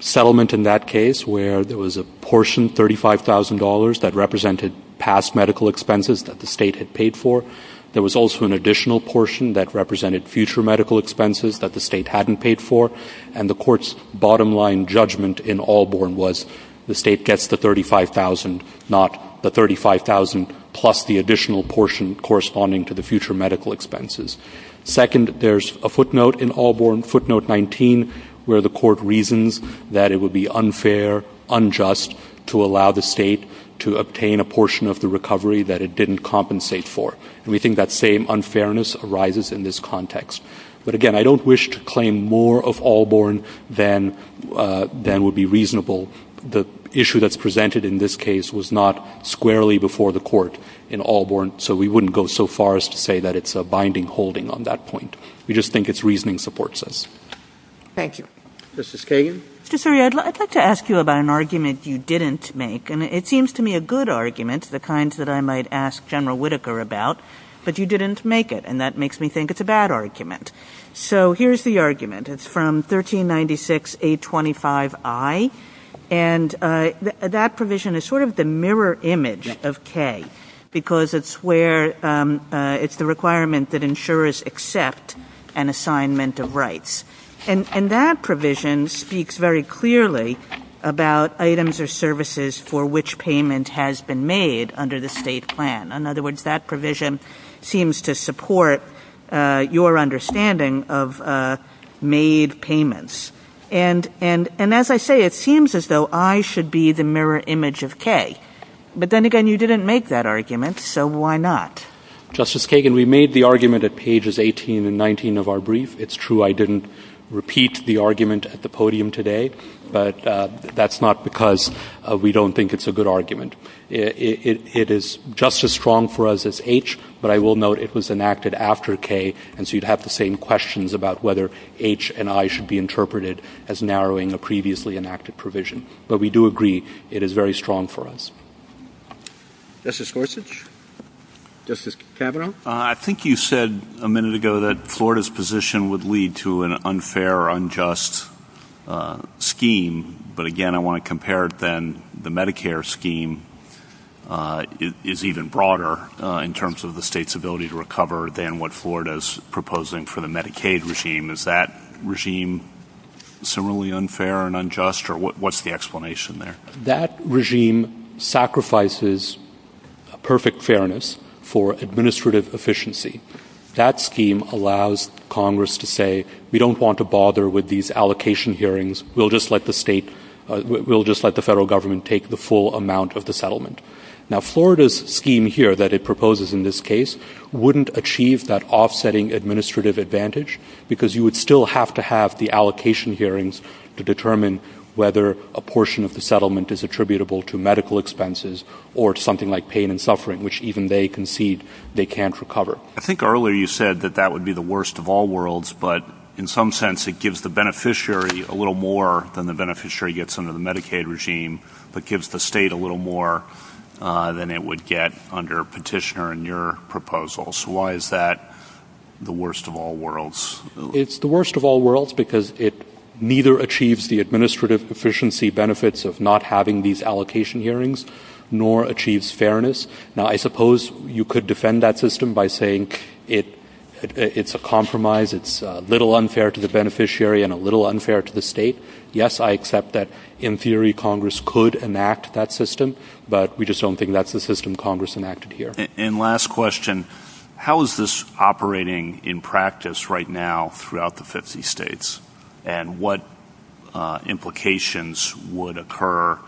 settlement in that case where there was a portion, $35,000, that represented past medical expenses that the state had paid for. There was also an additional portion that represented future medical expenses that the state hadn't paid for. And the Court's bottom line judgment in Albarn was the state gets the $35,000, not the $35,000 plus the additional portion corresponding to the future medical expenses. Second, there's a footnote in Albarn, footnote 19, where the Court reasons that it would be unfair, unjust, to allow the state to obtain a portion of the recovery that it didn't compensate for. And we think that same unfairness arises in this context. But again, I don't wish to claim more of Albarn than would be reasonable. The issue that's presented in this case was not squarely before the Court in Albarn, so we wouldn't go so far as to say that it's a binding holding on that point. We just think it's reasoning supports us. Thank you. Justice Kagan? Mr. Suri, I'd like to ask you about an argument you didn't make, and it seems to me a good argument, the kind that I might ask General Whitaker about, but you didn't make it, and that makes me think it's a bad argument. So here's the argument. It's from 1396A25I, and that provision is sort of the mirror image of Kay because it's the requirement that insurers accept an assignment of rights. And that provision speaks very clearly about items or services for which payment has been made under the state plan. In other words, that provision seems to support your understanding of made payments. And as I say, it seems as though I should be the mirror image of Kay. But then again, you didn't make that argument, so why not? Justice Kagan, we made the argument at pages 18 and 19 of our brief. It's true I didn't repeat the argument at the podium today, but that's not because we don't think it's a good argument. It is just as strong for us as H, but I will note it was enacted after Kay, and so you'd have the same questions about whether H and I should be interpreted as narrowing a previously enacted provision. But we do agree it is very strong for us. Justice Gorsuch. Justice Kavanaugh. I think you said a minute ago that Florida's position would lead to an unfair, unjust scheme. But again, I want to compare it then. The Medicare scheme is even broader in terms of the state's ability to recover than what Florida is proposing for the Medicaid regime. And is that regime similarly unfair and unjust, or what's the explanation there? That regime sacrifices perfect fairness for administrative efficiency. That scheme allows Congress to say we don't want to bother with these allocation hearings. We'll just let the federal government take the full amount of the settlement. Now, Florida's scheme here that it proposes in this case wouldn't achieve that offsetting administrative advantage because you would still have to have the allocation hearings to determine whether a portion of the settlement is attributable to medical expenses or something like pain and suffering, which even they concede they can't recover. I think earlier you said that that would be the worst of all worlds, but in some sense it gives the beneficiary a little more than the beneficiary gets under the Medicaid regime, but gives the state a little more than it would get under Petitioner in your proposal. So why is that the worst of all worlds? It's the worst of all worlds because it neither achieves the administrative efficiency benefits of not having these allocation hearings nor achieves fairness. Now, I suppose you could defend that system by saying it's a compromise, it's a little unfair to the beneficiary and a little unfair to the state. Yes, I accept that in theory Congress could enact that system, but we just don't think that's the system Congress enacted here. And last question, how is this operating in practice right now throughout the 50 states, and what implications would occur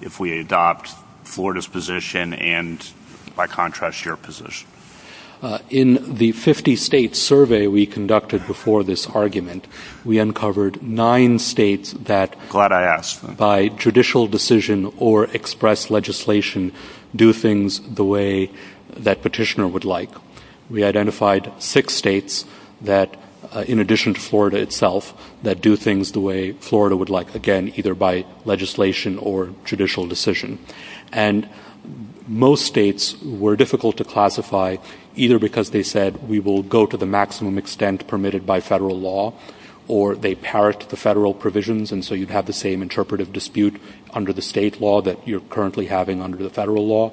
if we adopt Florida's position and, by contrast, your position? In the 50-state survey we conducted before this argument, we uncovered nine states that, Glad I asked. by judicial decision or express legislation, do things the way that Petitioner would like. We identified six states that, in addition to Florida itself, that do things the way Florida would like, again, either by legislation or judicial decision. And most states were difficult to classify either because they said we will go to the maximum extent or they parrot the federal provisions and so you'd have the same interpretive dispute under the state law that you're currently having under the federal law,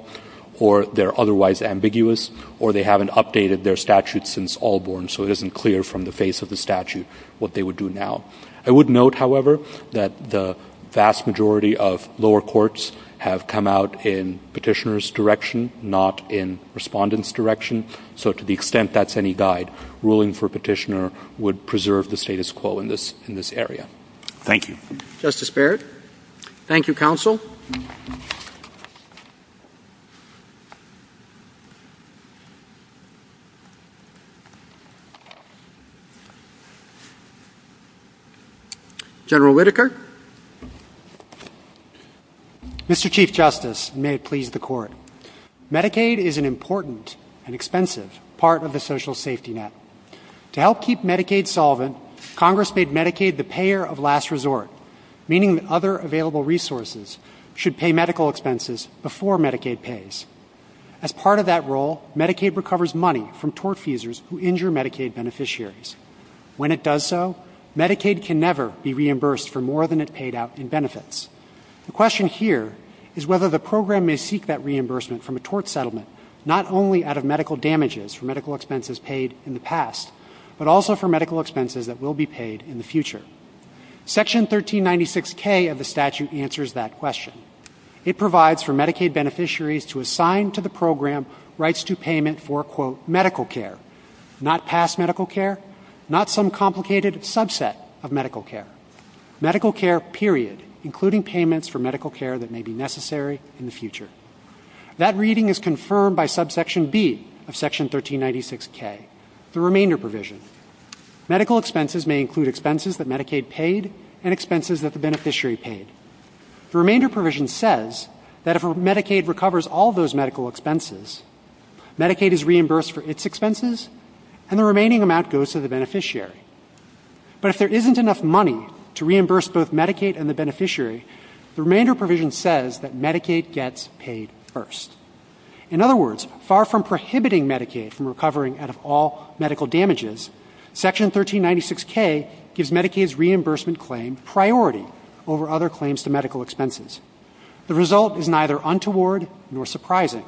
or they're otherwise ambiguous, or they haven't updated their statute since Allborn, so it isn't clear from the face of the statute what they would do now. I would note, however, that the vast majority of lower courts have come out in Petitioner's direction, not in Respondent's direction, so to the extent that's any guide, ruling for Petitioner would preserve the status quo in this area. Thank you. Justice Baird? Thank you, Counsel. General Whitaker? Mr. Chief Justice, may it please the Court. Medicaid is an important and expensive part of the social safety net. To help keep Medicaid solvent, Congress made Medicaid the payer of last resort, meaning that other available resources should pay medical expenses before Medicaid pays. As part of that role, Medicaid recovers money from tortfeasors who injure Medicaid beneficiaries. When it does so, Medicaid can never be reimbursed for more than it paid out in benefits. The question here is whether the program may seek that reimbursement from a tort settlement, not only out of medical damages for medical expenses paid in the past, but also for medical expenses that will be paid in the future. Section 1396K of the statute answers that question. It provides for Medicaid beneficiaries to assign to the program rights to payment for, quote, medical care, not past medical care, not some complicated subset of medical care. Medical care, period, including payments for medical care that may be necessary in the future. That reading is confirmed by subsection B of section 1396K, the remainder provision. Medical expenses may include expenses that Medicaid paid and expenses that the beneficiary paid. The remainder provision says that if Medicaid recovers all those medical expenses, Medicaid is reimbursed for its expenses and the remaining amount goes to the beneficiary. But if there isn't enough money to reimburse both Medicaid and the beneficiary, the remainder provision says that Medicaid gets paid first. In other words, far from prohibiting Medicaid from recovering out of all medical damages, section 1396K gives Medicaid's reimbursement claim priority over other claims to medical expenses. The result is neither untoward nor surprising.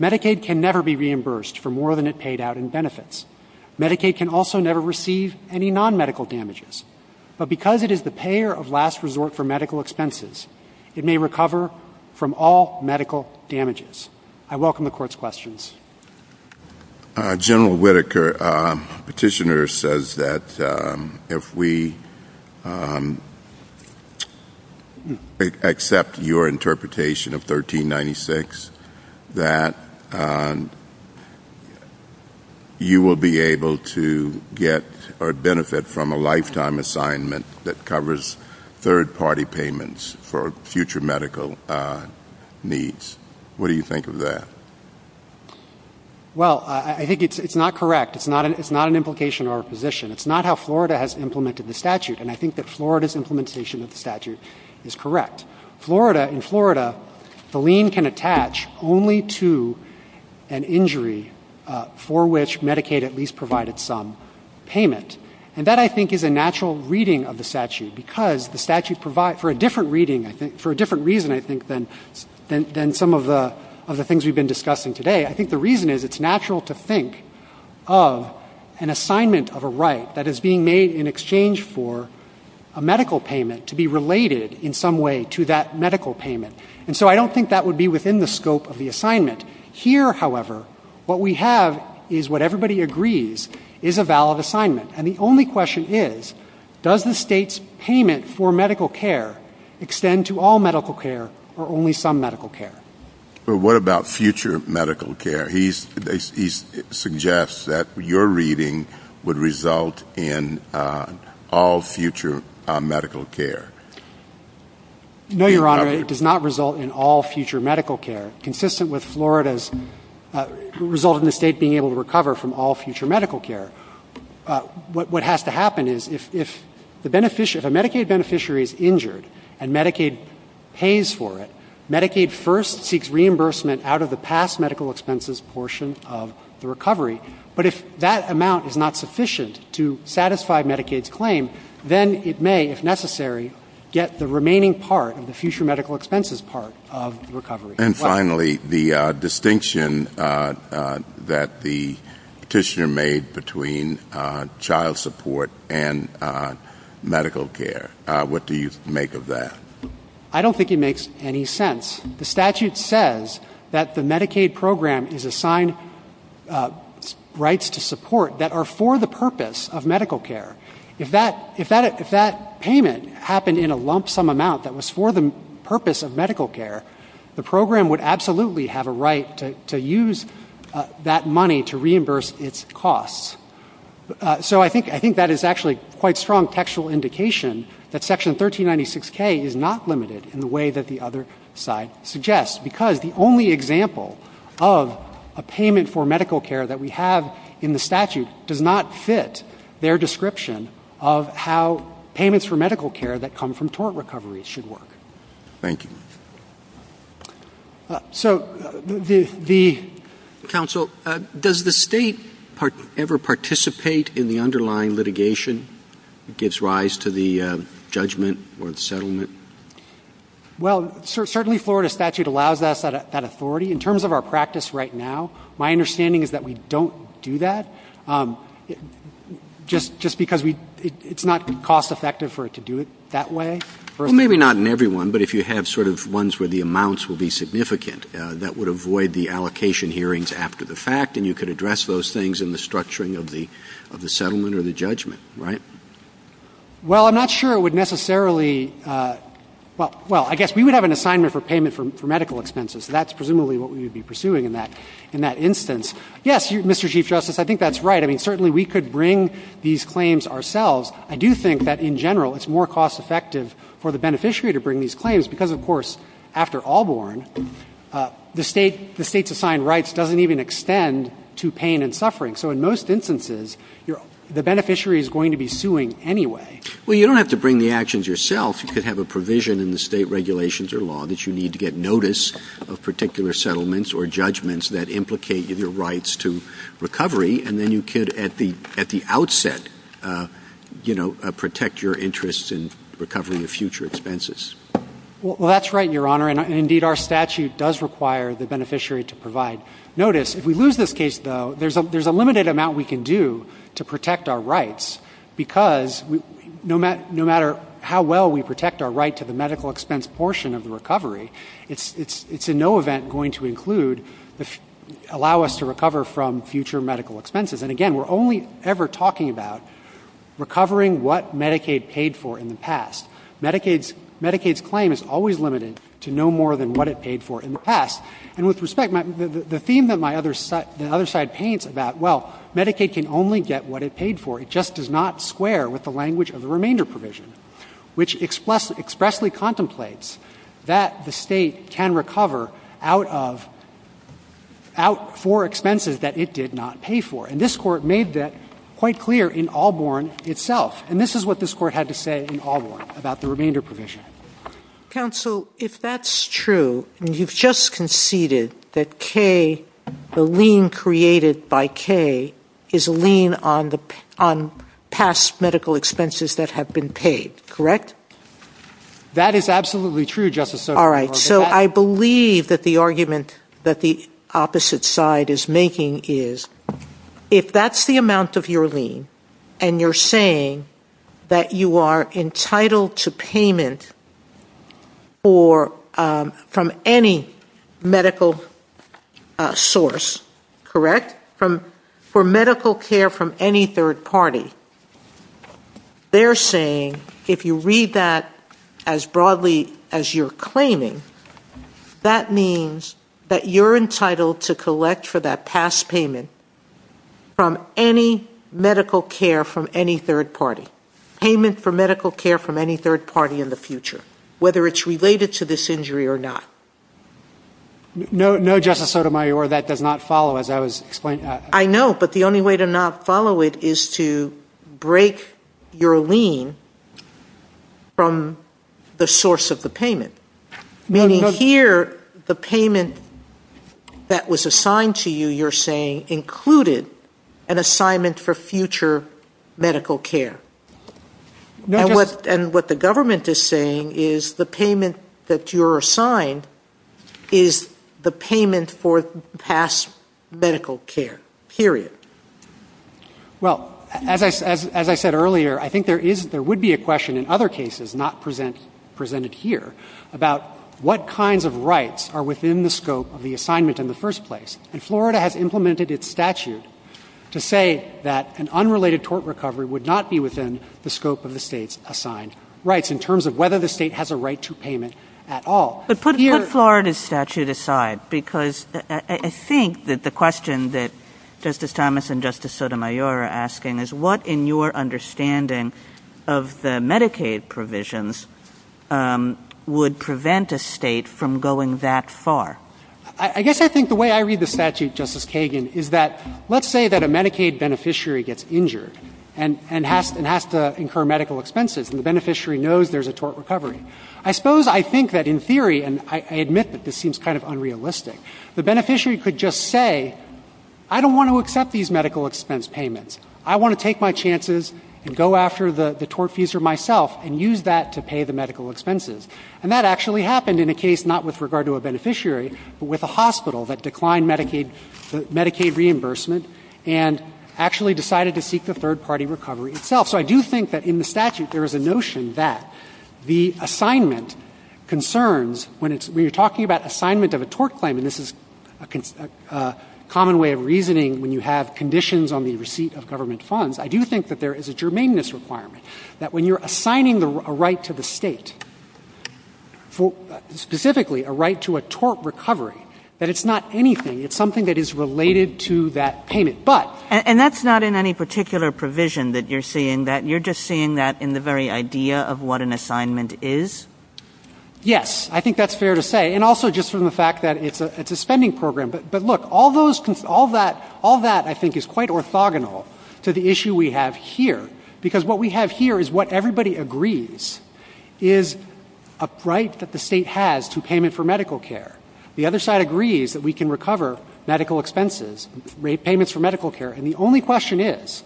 Medicaid can never be reimbursed for more than it paid out in benefits. Medicaid can also never receive any non-medical damages. But because it is the payer of last resort for medical expenses, it may recover from all medical damages. I welcome the Court's questions. General Whitaker, petitioner says that if we accept your interpretation of 1396, that you will be able to get or benefit from a lifetime assignment that covers third-party payments for future medical needs. What do you think of that? Well, I think it's not correct. It's not an implication or a position. It's not how Florida has implemented the statute, and I think that Florida's implementation of the statute is correct. In Florida, the lien can attach only to an injury for which Medicaid at least provided some payment. For a different reason, I think, than some of the things we've been discussing today, I think the reason is it's natural to think of an assignment of a right that is being made in exchange for a medical payment to be related in some way to that medical payment. And so I don't think that would be within the scope of the assignment. Here, however, what we have is what everybody agrees is a valid assignment. And the only question is, does the state's payment for medical care extend to all medical care or only some medical care? But what about future medical care? He suggests that your reading would result in all future medical care. No, Your Honor, it does not result in all future medical care, consistent with Florida's result in the state being able to recover from all future medical care. What has to happen is if a Medicaid beneficiary is injured and Medicaid pays for it, Medicaid first seeks reimbursement out of the past medical expenses portion of the recovery. But if that amount is not sufficient to satisfy Medicaid's claim, then it may, if necessary, get the remaining part of the future medical expenses part of recovery. And finally, the distinction that the petitioner made between child support and medical care, what do you make of that? I don't think it makes any sense. The statute says that the Medicaid program is assigned rights to support that are for the purpose of medical care. If that payment happened in a lump sum amount that was for the purpose of medical care, the program would absolutely have a right to use that money to reimburse its costs. So I think that is actually quite strong textual indication that Section 1396K is not limited in the way that the other side suggests because the only example of a payment for medical care that we have in the statute does not fit their description of how payments for medical care that come from tort recovery should work. Thank you. Counsel, does the state ever participate in the underlying litigation that gives rise to the judgment or the settlement? Well, certainly Florida statute allows us that authority. In terms of our practice right now, my understanding is that we don't do that just because it's not cost effective for it to do it that way. Well, maybe not in every one, but if you have sort of ones where the amounts will be significant, that would avoid the allocation hearings after the fact and you can address those things in the structuring of the settlement or the judgment, right? Well, I'm not sure it would necessarily — well, I guess we would have an assignment for payment for medical expenses. That's presumably what we would be pursuing in that instance. Yes, Mr. Chief Justice, I think that's right. I mean, certainly we could bring these claims ourselves. I do think that in general it's more cost effective for the beneficiary to bring these claims because, of course, after Allborn, the state's assigned rights doesn't even extend to pain and suffering. So in most instances, the beneficiary is going to be suing anyway. Well, you don't have to bring the actions yourself. You could have a provision in the state regulations or law that you need to get notice of particular settlements or judgments that implicate either rights to recovery, and then you could at the outset, you know, protect your interests in recovering the future expenses. Well, that's right, Your Honor, and indeed our statute does require the beneficiary to provide notice. If we lose this case, though, there's a limited amount we can do to protect our rights because no matter how well we allow us to recover from future medical expenses. And again, we're only ever talking about recovering what Medicaid paid for in the past. Medicaid's claim is always limited to no more than what it paid for in the past. And with respect, the theme that my other side paints about, well, Medicaid can only get what it paid for. It just does not square with the language of the remainder provision, which expressly contemplates that the state can recover out for expenses that it did not pay for. And this court made that quite clear in Alborn itself. And this is what this court had to say in Alborn about the remainder provision. Counsel, if that's true, and you've just conceded that K, the lien created by K, is a lien on past medical expenses that have been paid, correct? That is absolutely true, Justice Sotomayor. All right, so I believe that the argument that the opposite side is making is if that's the amount of your lien, and you're saying that you are entitled to payment from any medical source, correct? For medical care from any third party. They're saying if you read that as broadly as you're claiming, that means that you're entitled to collect for that past payment from any medical care from any third party. Payment for medical care from any third party in the future, whether it's related to this injury or not. No, Justice Sotomayor, that does not follow, as I was explaining. I know, but the only way to not follow it is to break your lien from the source of the payment. Meaning here, the payment that was assigned to you, you're saying, included an assignment for future medical care. And what the government is saying is the payment that you're assigned is the payment for past medical care, period. Well, as I said earlier, I think there would be a question in other cases not presented here about what kinds of rights are within the scope of the assignment in the first place. And Florida has implemented its statute to say that an unrelated tort recovery would not be within the scope of the State's assigned rights in terms of whether the State has a right to payment at all. Well, put Florida's statute aside, because I think that the question that Justice Thomas and Justice Sotomayor are asking is what, in your understanding of the Medicaid provisions, would prevent a State from going that far? I guess I think the way I read the statute, Justice Kagan, is that let's say that a Medicaid beneficiary gets injured and has to incur medical expenses, and the beneficiary knows there's a tort recovery. I suppose I think that in theory, and I admit that this seems kind of unrealistic, the beneficiary could just say, I don't want to accept these medical expense payments. I want to take my chances and go after the tortfeasor myself and use that to pay the medical expenses. And that actually happened in a case not with regard to a beneficiary, but with a hospital that declined Medicaid reimbursement and actually decided to seek the third-party recovery itself. So I do think that in the statute there is a notion that the assignment concerns, when you're talking about assignment of a tort claim, and this is a common way of reasoning when you have conditions on the receipt of government funds, I do think that there is a germane requirement that when you're assigning a right to the State, specifically a right to a tort recovery, that it's not anything. It's something that is related to that payment. And that's not in any particular provision that you're seeing that. You're just seeing that in the very idea of what an assignment is? Yes. I think that's fair to say. And also just from the fact that it's a spending program. But look, all that I think is quite orthogonal to the issue we have here, because what we have here is what everybody agrees is a right that the State has to payment for medical care. The other side agrees that we can recover medical expenses, payments for medical care. And the only question is,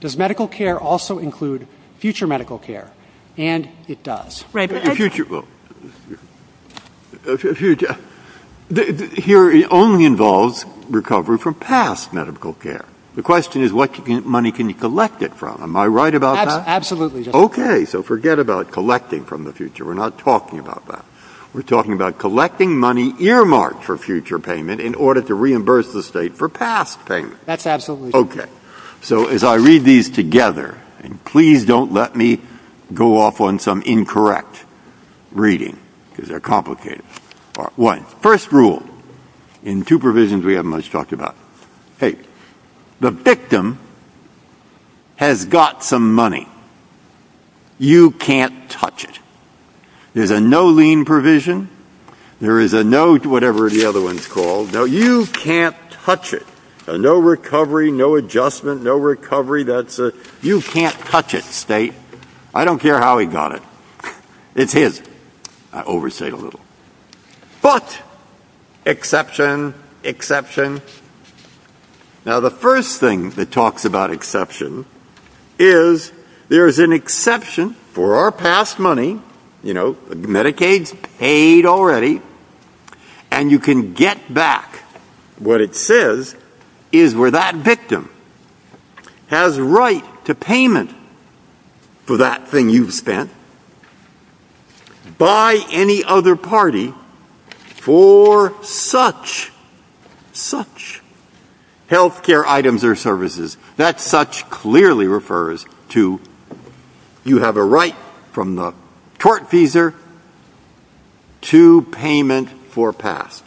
does medical care also include future medical care? And it does. Here it only involves recovery from past medical care. The question is, what money can you collect it from? Am I right about that? Absolutely. Okay. So forget about collecting from the future. We're not talking about that. We're talking about collecting money earmarked for future payment in order to reimburse the State for past payment. That's absolutely true. Okay. So as I read these together, and please don't let me go off on some incorrect reading, because they're complicated. Part one. First rule in two provisions we haven't much talked about. Hey, the victim has got some money. You can't touch it. There's a no lien provision. There is a no whatever the other one is called. No, you can't touch it. No recovery, no adjustment, no recovery. You can't touch it, State. I don't care how he got it. I overstate a little. But exception, exception. Now, the first thing that talks about exception is there is an exception for our past money. You know, Medicaid's paid already. And you can get back what it says is where that victim has right to payment for that thing you've spent by any other party for such, such healthcare items or services. That such clearly refers to you have a right from the tort feeser to payment for past.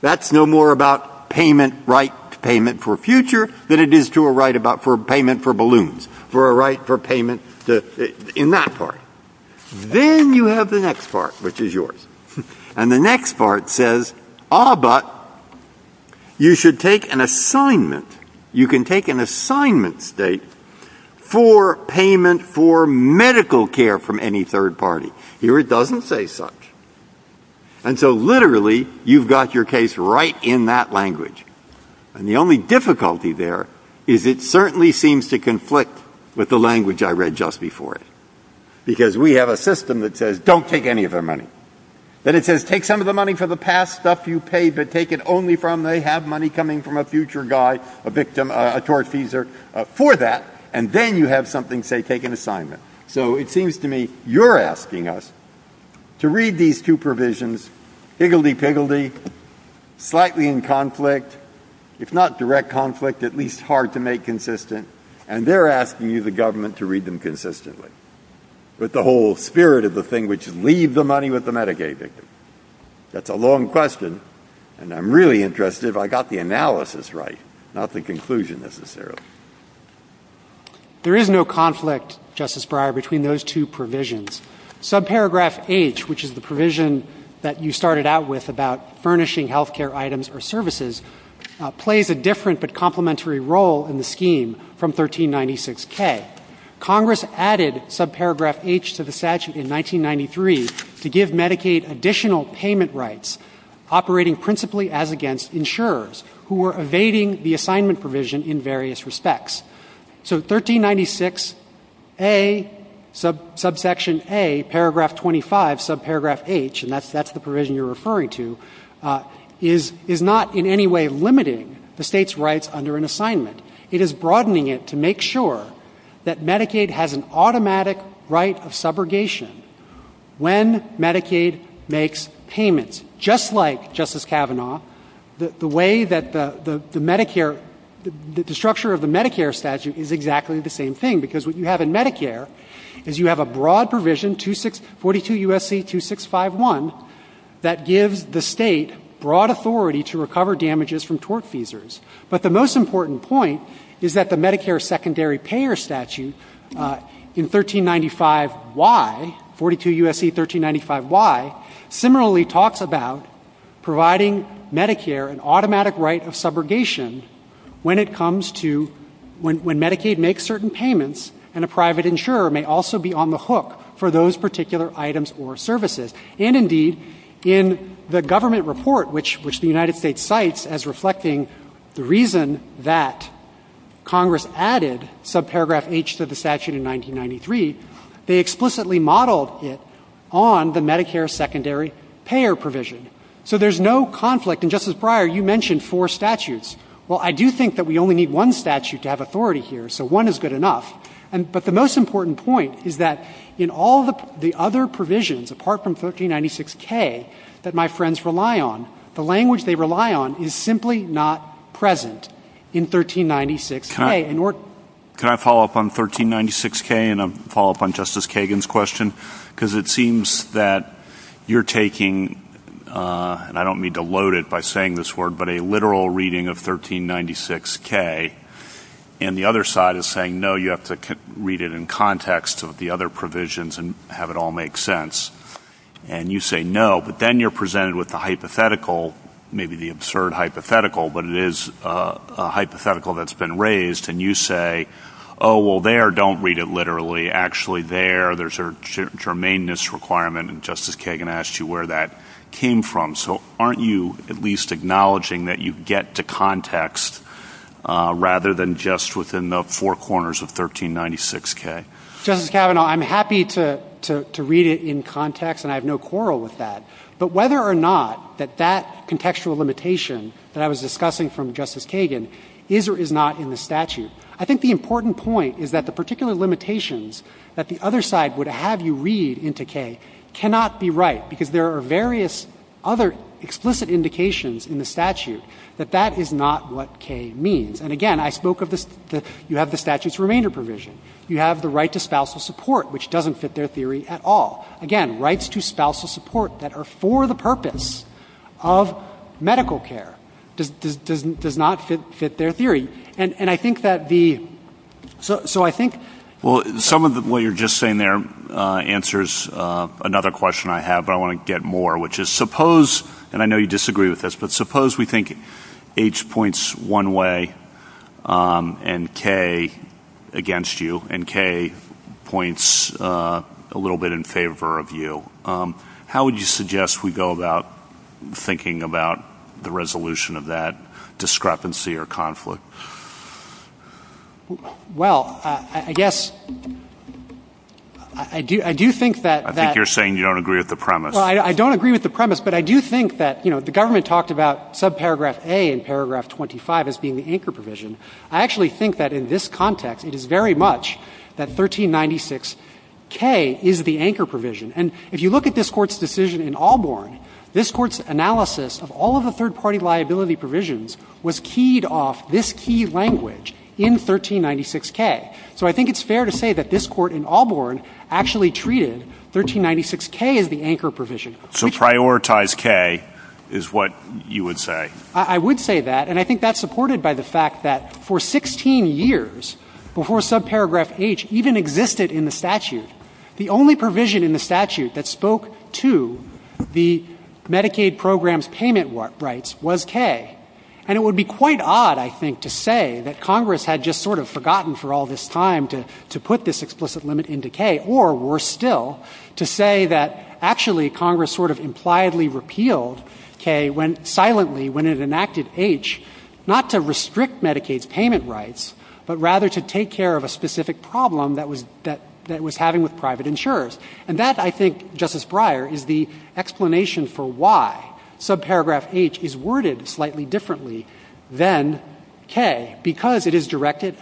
That's no more about payment right to payment for future than it is to a right about payment for balloons. That's no more about payment right to payment for future than it is to a right for payment in that part. Then you have the next part, which is yours. And the next part says, ah, but you should take an assignment. You can take an assignment, State, for payment for medical care from any third party. Here it doesn't say such. And so literally, you've got your case right in that language. And the only difficulty there is it certainly seems to conflict with the language I read just before it. Because we have a system that says, don't take any of their money. Then it says, take some of the money for the past stuff you paid, but take it only from they have money coming from a future guy, a victim, a tort feeser, for that. And then you have something say, take an assignment. So it seems to me you're asking us to read these two provisions, higgledy-piggledy, slightly in conflict. It's not direct conflict, at least hard to make consistent. And they're asking you, the government, to read them consistently with the whole spirit of the thing, which is leave the money with the Medicaid victim. That's a long question. And I'm really interested if I got the analysis right, not the conclusion, necessarily. There is no conflict, Justice Breyer, between those two provisions. Subparagraph H, which is the provision that you started out with about furnishing health care items or services, plays a different but complementary role in the scheme from 1396K. Congress added subparagraph H to the statute in 1993 to give Medicaid additional payment rights operating principally as against insurers who were evading the assignment provision in various respects. So 1396A, subsection A, paragraph 25, subparagraph H, and that's the provision you're referring to, is not in any way limiting the state's rights under an assignment. It is broadening it to make sure that Medicaid has an automatic right of subrogation when Medicaid makes payments. Just like Justice Kavanaugh, the way that the structure of the Medicare statute is exactly the same thing, because what you have in Medicare is you have a broad provision, 42 U.S.C. 2651, that gives the state broad authority to recover damages from tort feasors. But the most important point is that the Medicare secondary payer statute in 1395Y, 42 U.S.C. 1395Y, similarly talks about providing Medicare an automatic right of subrogation when Medicaid makes certain payments and a private insurer may also be on the hook for those particular items or services. And indeed, in the government report, which the United States cites as reflecting the reason that Congress added subparagraph H to the statute in 1993, they explicitly modeled it on the Medicare secondary payer provision. So there's no conflict. And, Justice Breyer, you mentioned four statutes. Well, I do think that we only need one statute to have authority here, so one is good enough. But the most important point is that in all the other provisions, apart from 1396K, that my friends rely on, the language they rely on is simply not present in 1396K. Can I follow up on 1396K and follow up on Justice Kagan's question? Because it seems that you're taking, and I don't mean to load it by saying this word, but a literal reading of 1396K, and the other side is saying, no, you have to read it in context of the other provisions and have it all make sense. And you say no, but then you're presented with the hypothetical, maybe the absurd hypothetical, but it is a hypothetical that's been raised, and you say, oh, well, there, don't read it literally. Actually, there, there's a germaneness requirement, and Justice Kagan asked you where that came from. So aren't you at least acknowledging that you get to context rather than just within the four corners of 1396K? Justice Kavanaugh, I'm happy to read it in context, and I have no quarrel with that. But whether or not that that contextual limitation that I was discussing from Justice Kagan is or is not in the statute, I think the important point is that the particular limitations that the other side would have you read into K cannot be right, because there are various other explicit indications in the statute that that is not what K means. And again, I spoke of the, you have the statute's remainder provision. You have the right to spousal support, which doesn't fit their theory at all. Again, rights to spousal support that are for the purpose of medical care does not fit their theory. And I think that the, so I think. Well, some of what you're just saying there answers another question I have, but I want to get more, which is suppose, and I know you disagree with this, but suppose we think H points one way and K against you, and K points a little bit in favor of you. How would you suggest we go about thinking about the resolution of that discrepancy or conflict? Well, I guess I do think that. I think you're saying you don't agree with the premise. Well, I don't agree with the premise, but I do think that, you know, the government talked about subparagraph A in paragraph 25 as being the anchor provision. I actually think that in this context, it is very much that 1396K is the anchor provision. And if you look at this Court's decision in Allborn, this Court's analysis of all of the third-party liability provisions was keyed off this key language in 1396K. So I think it's fair to say that this Court in Allborn actually treated 1396K as the anchor provision. So prioritize K is what you would say? I would say that, and I think that's supported by the fact that for 16 years before subparagraph H even existed in the statute, the only provision in the statute that spoke to the Medicaid program's payment rights was K. And it would be quite odd, I think, to say that Congress had just sort of forgotten for all this time to put this explicit limit into K, or worse still, to say that actually Congress sort of impliedly repealed K silently when it enacted H, not to restrict Medicaid's payment rights, but rather to take care of a specific problem that it was having with private insurers. And that, I think, Justice Breyer, is the explanation for why subparagraph H is worded slightly differently than K, because it is directed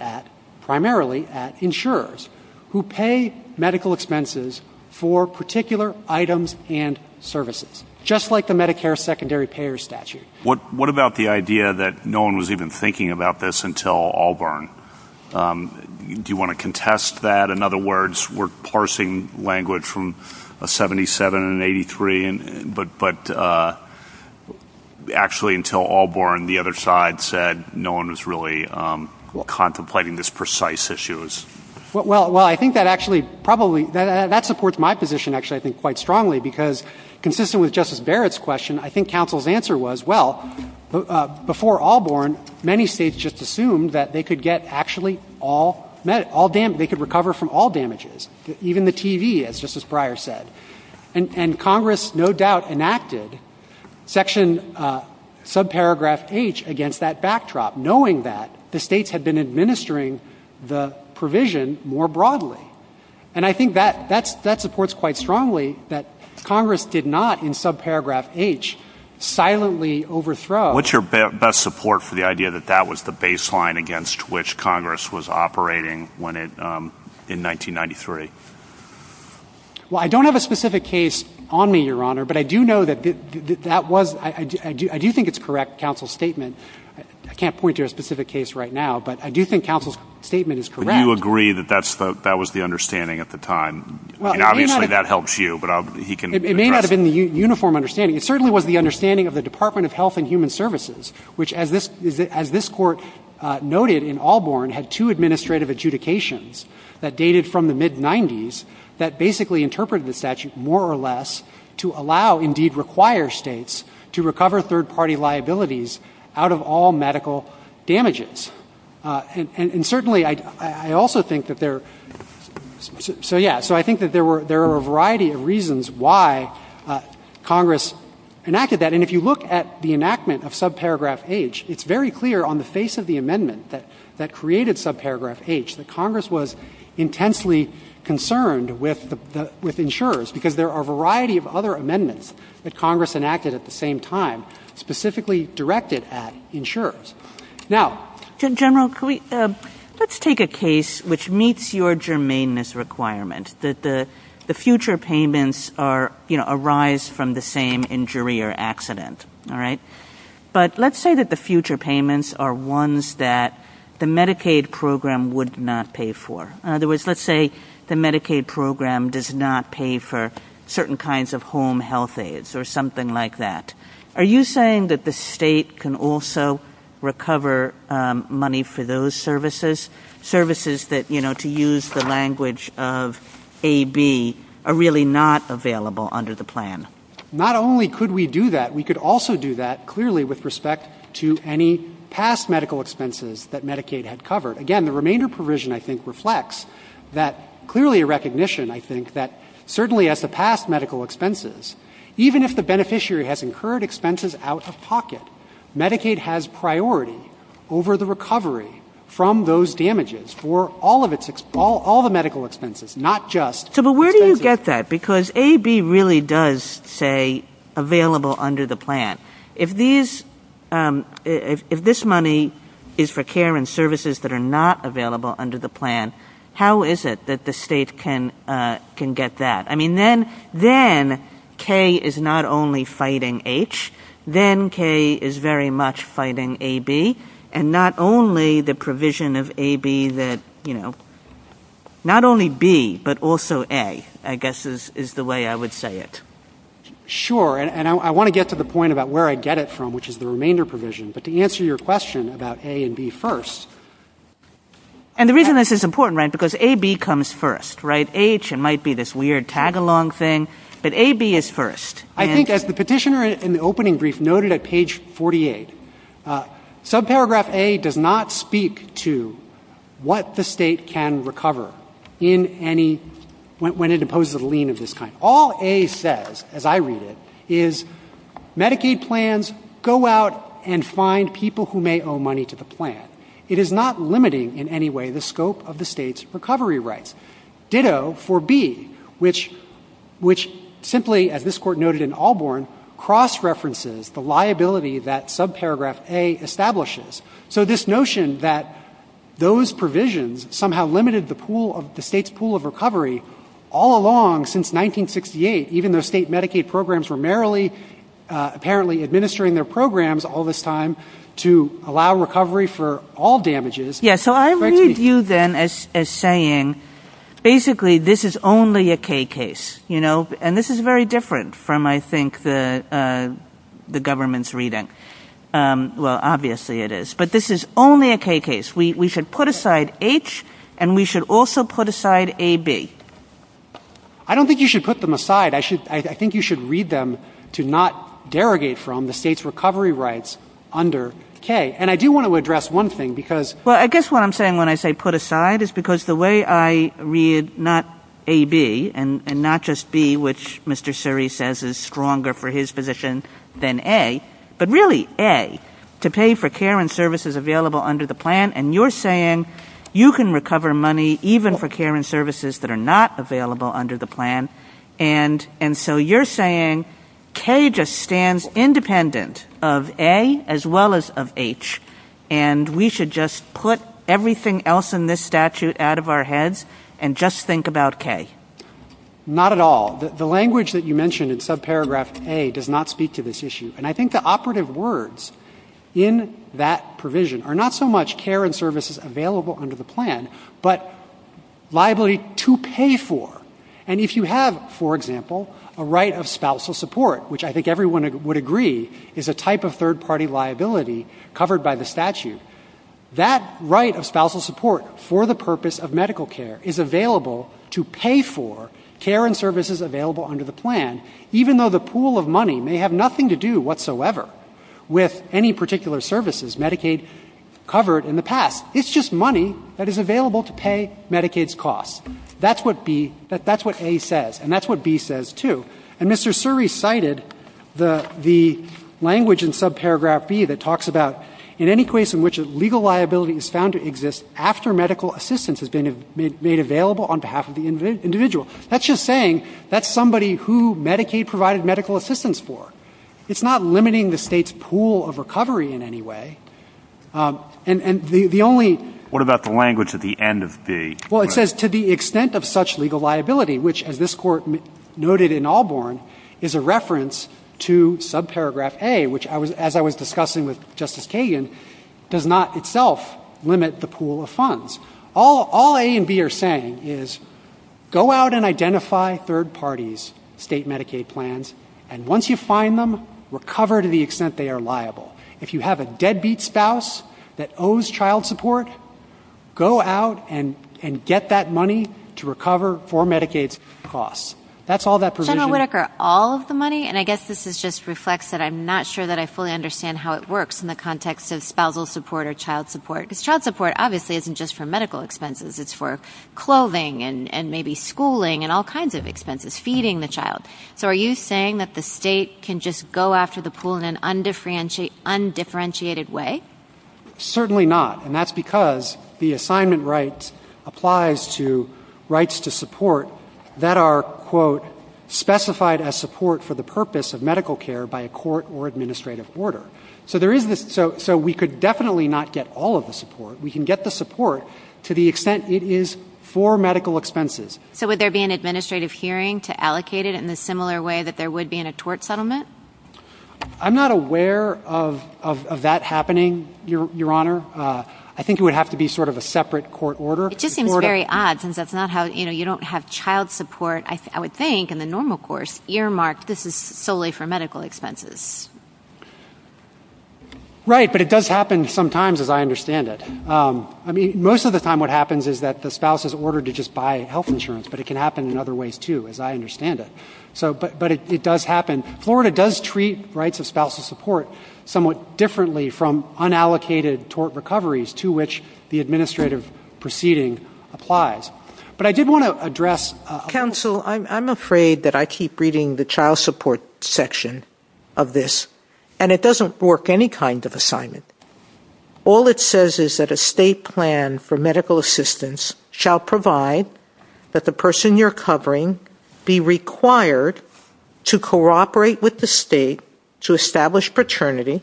primarily at insurers who pay medical expenses for particular items and services, just like the Medicare secondary payer statute. What about the idea that no one was even thinking about this until Allborn? Do you want to contest that? In other words, we're parsing language from 77 and 83, but actually until Allborn, the other side said no one was really contemplating this precise issue. Well, I think that actually probably — that supports my position, actually, I think, quite strongly, because consistent with Justice Barrett's question, I think counsel's answer was, well, before Allborn, many states just assumed that they could get actually all — they could recover from all damages, even the TV, just as Breyer said. And Congress, no doubt, enacted section subparagraph H against that backdrop, knowing that the states had been administering the provision more broadly. And I think that supports quite strongly that Congress did not, in subparagraph H, silently overthrow — What's your best support for the idea that that was the baseline against which Congress was operating in 1993? Well, I don't have a specific case on me, Your Honor, but I do know that that was — I do think it's correct, counsel's statement. I can't point to a specific case right now, but I do think counsel's statement is correct. Do you agree that that was the understanding at the time? Well, it may not have — I mean, obviously, that helps you, but he can — It may not have been the uniform understanding. It certainly was the understanding of the Department of Health and Human Services, which, as this court noted in Allborn, had two administrative adjudications that dated from the mid-90s that basically interpreted the statute more or less to allow, indeed, require states to recover third-party liabilities out of all medical damages. And certainly, I also think that there — so, yeah. So I think that there are a variety of reasons why Congress enacted that. And if you look at the enactment of subparagraph H, it's very clear on the face of the amendment that created subparagraph H that Congress was intensely concerned with insurers because there are a variety of other amendments that Congress enacted at the same time specifically directed at insurers. Now, General, let's take a case which meets your germaneness requirement, that the future payments arise from the same injury or accident, all right? But let's say that the future payments are ones that the Medicaid program would not pay for. In other words, let's say the Medicaid program does not pay for certain kinds of home health aides or something like that. Are you saying that the state can also recover money for those services, services that, you know, to use the language of AB, are really not available under the plan? Not only could we do that, we could also do that, clearly, with respect to any past medical expenses that Medicaid had covered. Again, the remainder provision, I think, reflects that clearly a recognition, I think, that certainly at the past medical expenses, even if the beneficiary has incurred expenses out of pocket, Medicaid has priority over the recovery from those damages for all the medical expenses, not just... So where do you get that? Because AB really does say available under the plan. If this money is for care and services that are not available under the plan, how is it that the state can get that? I mean, then K is not only fighting H, then K is very much fighting AB, and not only the provision of AB that, you know, not only B, but also A, I guess, is the way I would say it. Sure, and I want to get to the point about where I get it from, which is the remainder provision, but to answer your question about A and B first... And the reason this is important, right, because AB comes first, right? And H, it might be this weird tag-along thing, but AB is first. I think as the petitioner in the opening brief noted at page 48, subparagraph A does not speak to what the state can recover in any... when it imposes a lien of this kind. All A says, as I read it, is Medicaid plans go out and find people who may owe money to the plan. It is not limiting in any way the scope of the state's recovery rights. Ditto for B, which simply, as this court noted in Allborn, cross-references the liability that subparagraph A establishes. So this notion that those provisions somehow limited the pool of... the state's pool of recovery all along since 1968, even though state Medicaid programs were merrily, apparently administering their programs all this time, to allow recovery for all damages... Basically, this is only a K case. And this is very different from, I think, the government's reading. Well, obviously it is. But this is only a K case. We should put aside H, and we should also put aside AB. I don't think you should put them aside. I think you should read them to not derogate from the state's recovery rights under K. And I do want to address one thing, because... Well, I guess what I'm saying when I say put aside is because the way I read not AB and not just B, which Mr. Suri says is stronger for his position than A, but really A, to pay for care and services available under the plan, and you're saying you can recover money even for care and services that are not available under the plan, and so you're saying K just stands independent of A as well as of H, and we should just put everything else in this statute out of our heads and just think about K. Not at all. The language that you mentioned in subparagraph A does not speak to this issue. And I think the operative words in that provision are not so much care and services available under the plan, but liability to pay for. And if you have, for example, a right of spousal support, which I think everyone would agree is a type of third-party liability covered by the statute, that right of spousal support for the purpose of medical care is available to pay for care and services available under the plan, even though the pool of money may have nothing to do whatsoever with any particular services Medicaid covered in the past. It's just money that is available to pay Medicaid's costs. That's what A says, and that's what B says, too. And Mr. Suri cited the language in subparagraph B that talks about in any case in which a legal liability is found to exist after medical assistance has been made available on behalf of the individual. That's just saying that's somebody who Medicaid provided medical assistance for. It's not limiting the state's pool of recovery in any way. And the only... What about the language at the end of B? Well, it says to the extent of such legal liability, which, as this Court noted in Allborn, is a reference to subparagraph A, which, as I was discussing with Justice Kagan, does not itself limit the pool of funds. All A and B are saying is go out and identify third parties' state Medicaid plans, and once you find them, recover to the extent they are liable. If you have a deadbeat spouse that owes child support, go out and get that money to recover for Medicaid's costs. That's all that provision... And I guess this just reflects that I'm not sure that I fully understand how it works in the context of spousal support or child support, because child support obviously isn't just for medical expenses. It's for clothing and maybe schooling and all kinds of expenses, feeding the child. So are you saying that the state can just go after the pool in an undifferentiated way? Certainly not, and that's because the assignment right applies to rights to support that are, quote, specified as support for the purpose of medical care by a court or administrative order. So we could definitely not get all of the support. We can get the support to the extent it is for medical expenses. So would there be an administrative hearing to allocate it in a similar way that there would be in a tort settlement? I'm not aware of that happening, Your Honor. I think it would have to be sort of a separate court order. It just seems very odd since that's not how, you know, you don't have child support. I would think in a normal course earmarked this is solely for medical expenses. Right, but it does happen sometimes as I understand it. I mean, most of the time what happens is that the spouse is ordered to just buy health insurance, but it can happen in other ways, too, as I understand it. But it does happen. Florida does treat rights of spousal support somewhat differently from unallocated tort recoveries to which the administrative proceeding applies. But I did want to address... Counsel, I'm afraid that I keep reading the child support section of this, and it doesn't work any kind of assignment. All it says is that a state plan for medical assistance shall provide that the person you're covering be required to cooperate with the state to establish paternity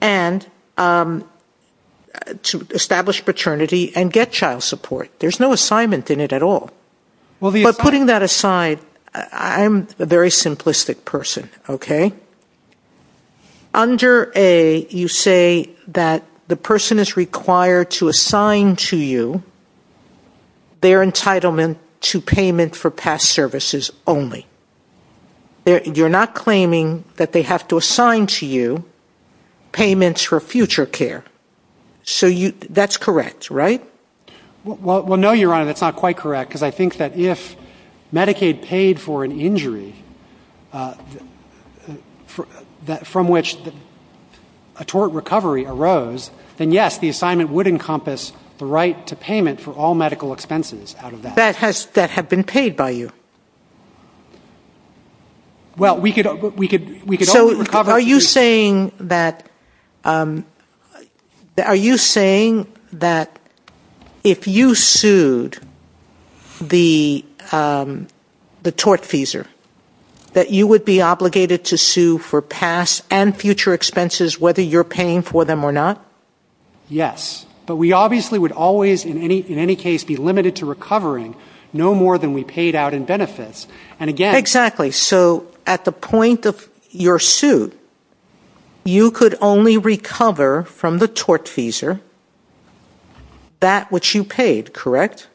and to establish paternity and get child support. There's no assignment in it at all. But putting that aside, I'm a very simplistic person, okay? Under A, you say that the person is required to assign to you their entitlement to payment for past services only. You're not claiming that they have to assign to you payments for future care. So that's correct, right? Well, no, Your Honor, that's not quite correct, because I think that if Medicaid paid for an injury from which a tort recovery arose, then, yes, the assignment would encompass the right to payment for all medical expenses out of that. But that has been paid by you. Well, we could only recover... So are you saying that if you sued the tort feeser, that you would be obligated to sue for past and future expenses whether you're paying for them or not? Yes. But we obviously would always, in any case, be limited to recovering no more than we paid out in benefits. Exactly. So at the point of your suit, you could only recover from the tort feeser that which you paid, correct?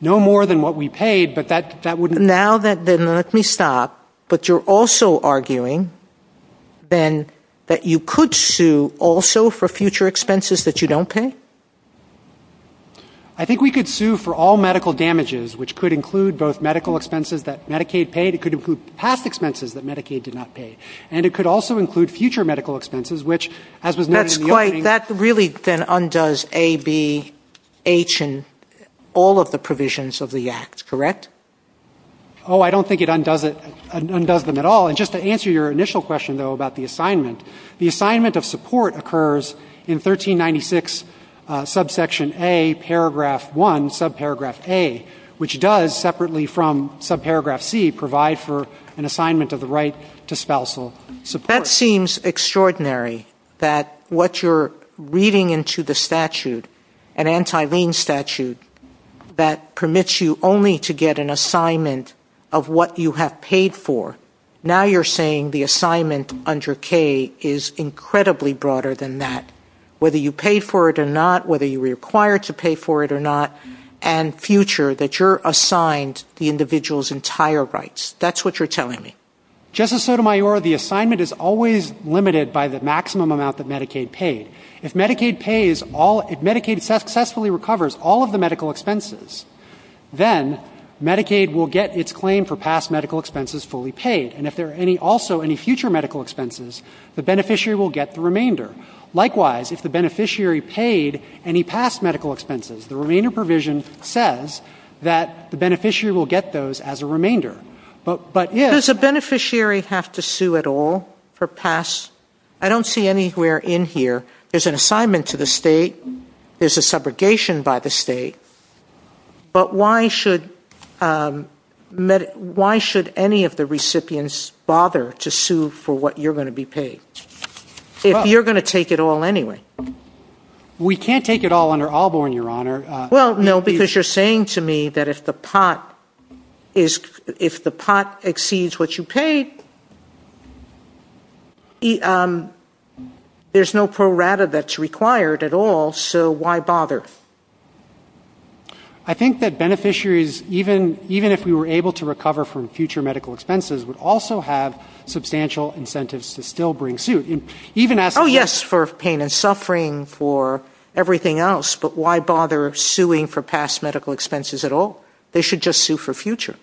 No more than what we paid, but that wouldn't... Now then, let me stop, but you're also arguing, then, that you could sue also for future expenses that you don't pay? I think we could sue for all medical damages, which could include both medical expenses that Medicaid paid, it could include past expenses that Medicaid did not pay, and it could also include future medical expenses, which, as was mentioned... And that really then undoes A, B, H, and all of the provisions of the Act, correct? Oh, I don't think it undoes them at all. And just to answer your initial question, though, about the assignment, the assignment of support occurs in 1396 subsection A, paragraph 1, subparagraph A, which does, separately from subparagraph C, provide for an assignment of the right to spousal support. That seems extraordinary, that what you're reading into the statute, an anti-lien statute that permits you only to get an assignment of what you have paid for. Now you're saying the assignment under K is incredibly broader than that, whether you paid for it or not, whether you were required to pay for it or not, and future, that you're assigned the individual's entire rights. That's what you're telling me. Justice Sotomayor, the assignment is always limited by the maximum amount that Medicaid paid. If Medicaid successfully recovers all of the medical expenses, then Medicaid will get its claim for past medical expenses fully paid. And if there are also any future medical expenses, the beneficiary will get the remainder. Likewise, if the beneficiary paid any past medical expenses, the remainder provision says that the beneficiary will get those as a remainder. Does the beneficiary have to sue at all for past? I don't see anywhere in here. There's an assignment to the state. There's a subrogation by the state. But why should any of the recipients bother to sue for what you're going to be paid, if you're going to take it all anyway? We can't take it all under Alborn, Your Honor. Well, no, because you're saying to me that if the pot exceeds what you paid, there's no pro rata that's required at all, so why bother? I think that beneficiaries, even if we were able to recover from future medical expenses, would also have substantial incentives to still bring suit. Oh, yes, for pain and suffering, for everything else. But why bother suing for past medical expenses at all? They should just sue for future.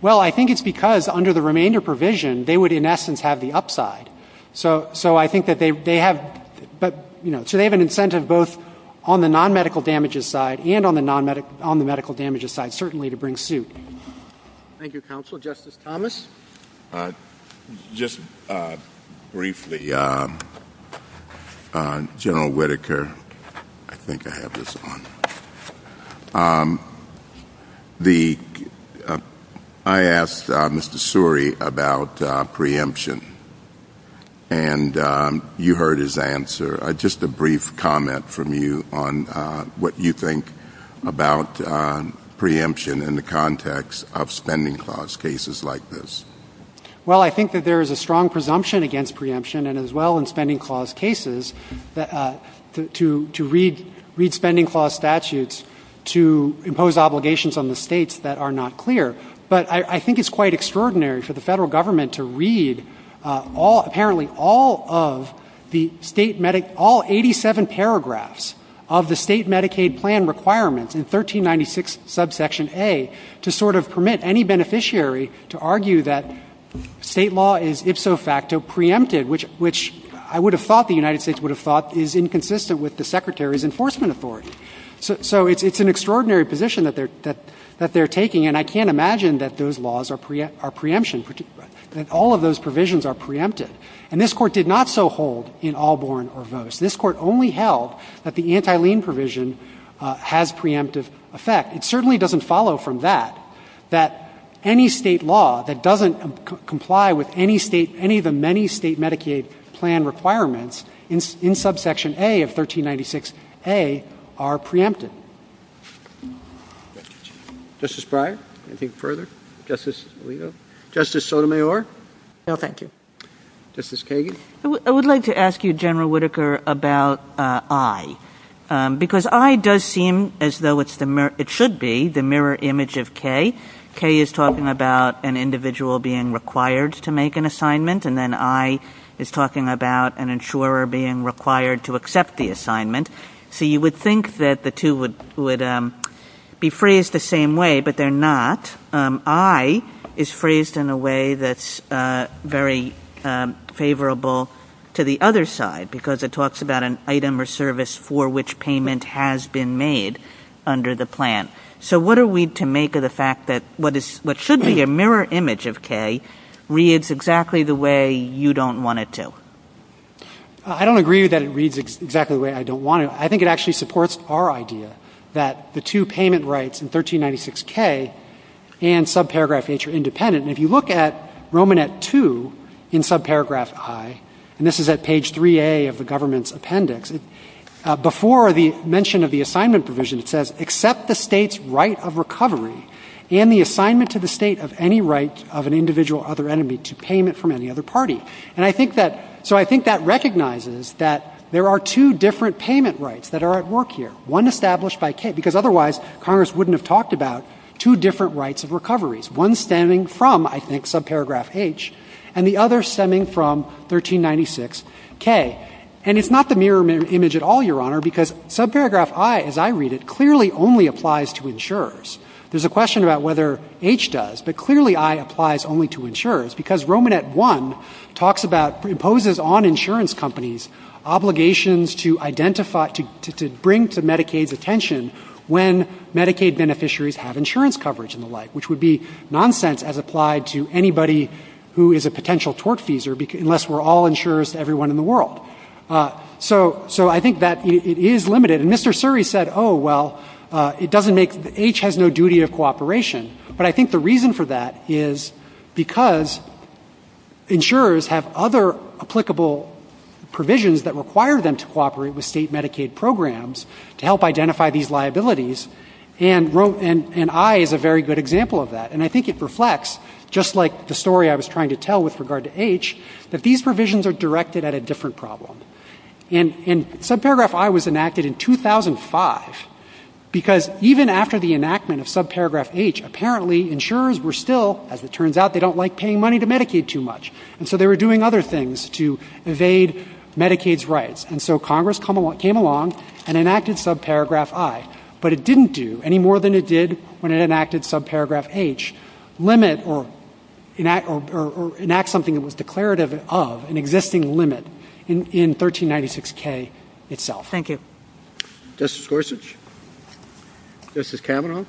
Well, I think it's because under the remainder provision, they would, in essence, have the upside. So I think that they have an incentive both on the non-medical damages side and on the medical damages side, certainly, to bring suit. Thank you, Counsel. Justice Thomas? Just briefly, General Whitaker, I think I have this on. I asked Mr. Suri about preemption, and you heard his answer. Just a brief comment from you on what you think about preemption in the context of spending clause cases like this. Well, I think that there is a strong presumption against preemption, and as well in spending clause cases, to read spending clause statutes to impose obligations on the states that are not clear. But I think it's quite extraordinary for the federal government to read, apparently, all of the 87 paragraphs of the state Medicaid plan requirements in 1396 subsection A to sort of permit any beneficiary to argue that state law is, if so facto, preempted, which I would have thought the United States would have thought is inconsistent with the Secretary's enforcement authority. So it's an extraordinary position that they're taking, and I can't imagine that those laws are preemption. All of those provisions are preempted. And this Court did not so hold in Allborn or Vose. This Court only held that the anti-lien provision has preemptive effect. It certainly doesn't follow from that, that any state law that doesn't comply with any of the many state Medicaid plan requirements in subsection A of 1396a are preempted. Justice Breyer, anything further? Justice Alito? Justice Sotomayor? No, thank you. Justice Kagan? I would like to ask you, General Whitaker, about I, because I does seem as though it should be the mirror image of K. K is talking about an individual being required to make an assignment, and then I is talking about an insurer being required to accept the assignment. So you would think that the two would be phrased the same way, but they're not. I is phrased in a way that's very favorable to the other side, because it talks about an item or service for which payment has been made under the plan. So what are we to make of the fact that what should be a mirror image of K reads exactly the way you don't want it to? I don't agree that it reads exactly the way I don't want it. I think it actually supports our idea that the two payment rights in 1396k and subparagraph H are independent. And if you look at Romanette 2 in subparagraph I, and this is at page 3a of the government's appendix, before the mention of the assignment provision, it says, accept the state's right of recovery and the assignment to the state of any right of an individual or other entity to payment from any other party. So I think that recognizes that there are two different payment rights that are at work here, one established by K, because otherwise Congress wouldn't have talked about two different rights of recoveries, one stemming from, I think, subparagraph H, and the other stemming from 1396k. And it's not the mirror image at all, Your Honor, because subparagraph I, as I read it, clearly only applies to insurers. There's a question about whether H does, but clearly I applies only to insurers, because Romanette 1 talks about, imposes on insurance companies obligations to identify, to bring to Medicaid's attention when Medicaid beneficiaries have insurance coverage and the like, which would be nonsense as applied to anybody who is a potential tortfeasor, unless we're all insurers to everyone in the world. So I think that it is limited. And Mr. Suri said, oh, well, it doesn't make, H has no duty of cooperation. But I think the reason for that is because insurers have other applicable provisions that require them to cooperate with state Medicaid programs to help identify these liabilities, and I is a very good example of that. And I think it reflects, just like the story I was trying to tell with regard to H, that these provisions are directed at a different problem. And subparagraph I was enacted in 2005, because even after the enactment of subparagraph H, apparently insurers were still, as it turns out, they don't like paying money to Medicaid too much, and so they were doing other things to evade Medicaid's rights. And so Congress came along and enacted subparagraph I, but it didn't do any more than it did when it enacted subparagraph H, limit or enact something that was declarative of an existing limit in 1396K itself. Thank you. Justice Gorsuch? Justice Kavanaugh?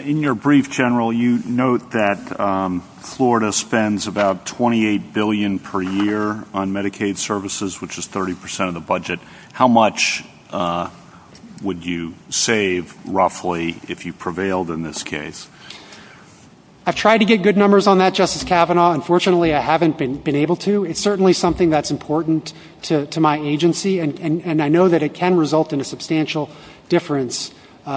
In your brief, General, you note that Florida spends about $28 billion per year on Medicaid services, which is 30 percent of the budget. How much would you save, roughly, if you prevailed in this case? I've tried to get good numbers on that, Justice Kavanaugh. Unfortunately, I haven't been able to. It's certainly something that's important to my agency, and I know that it can result in a substantial difference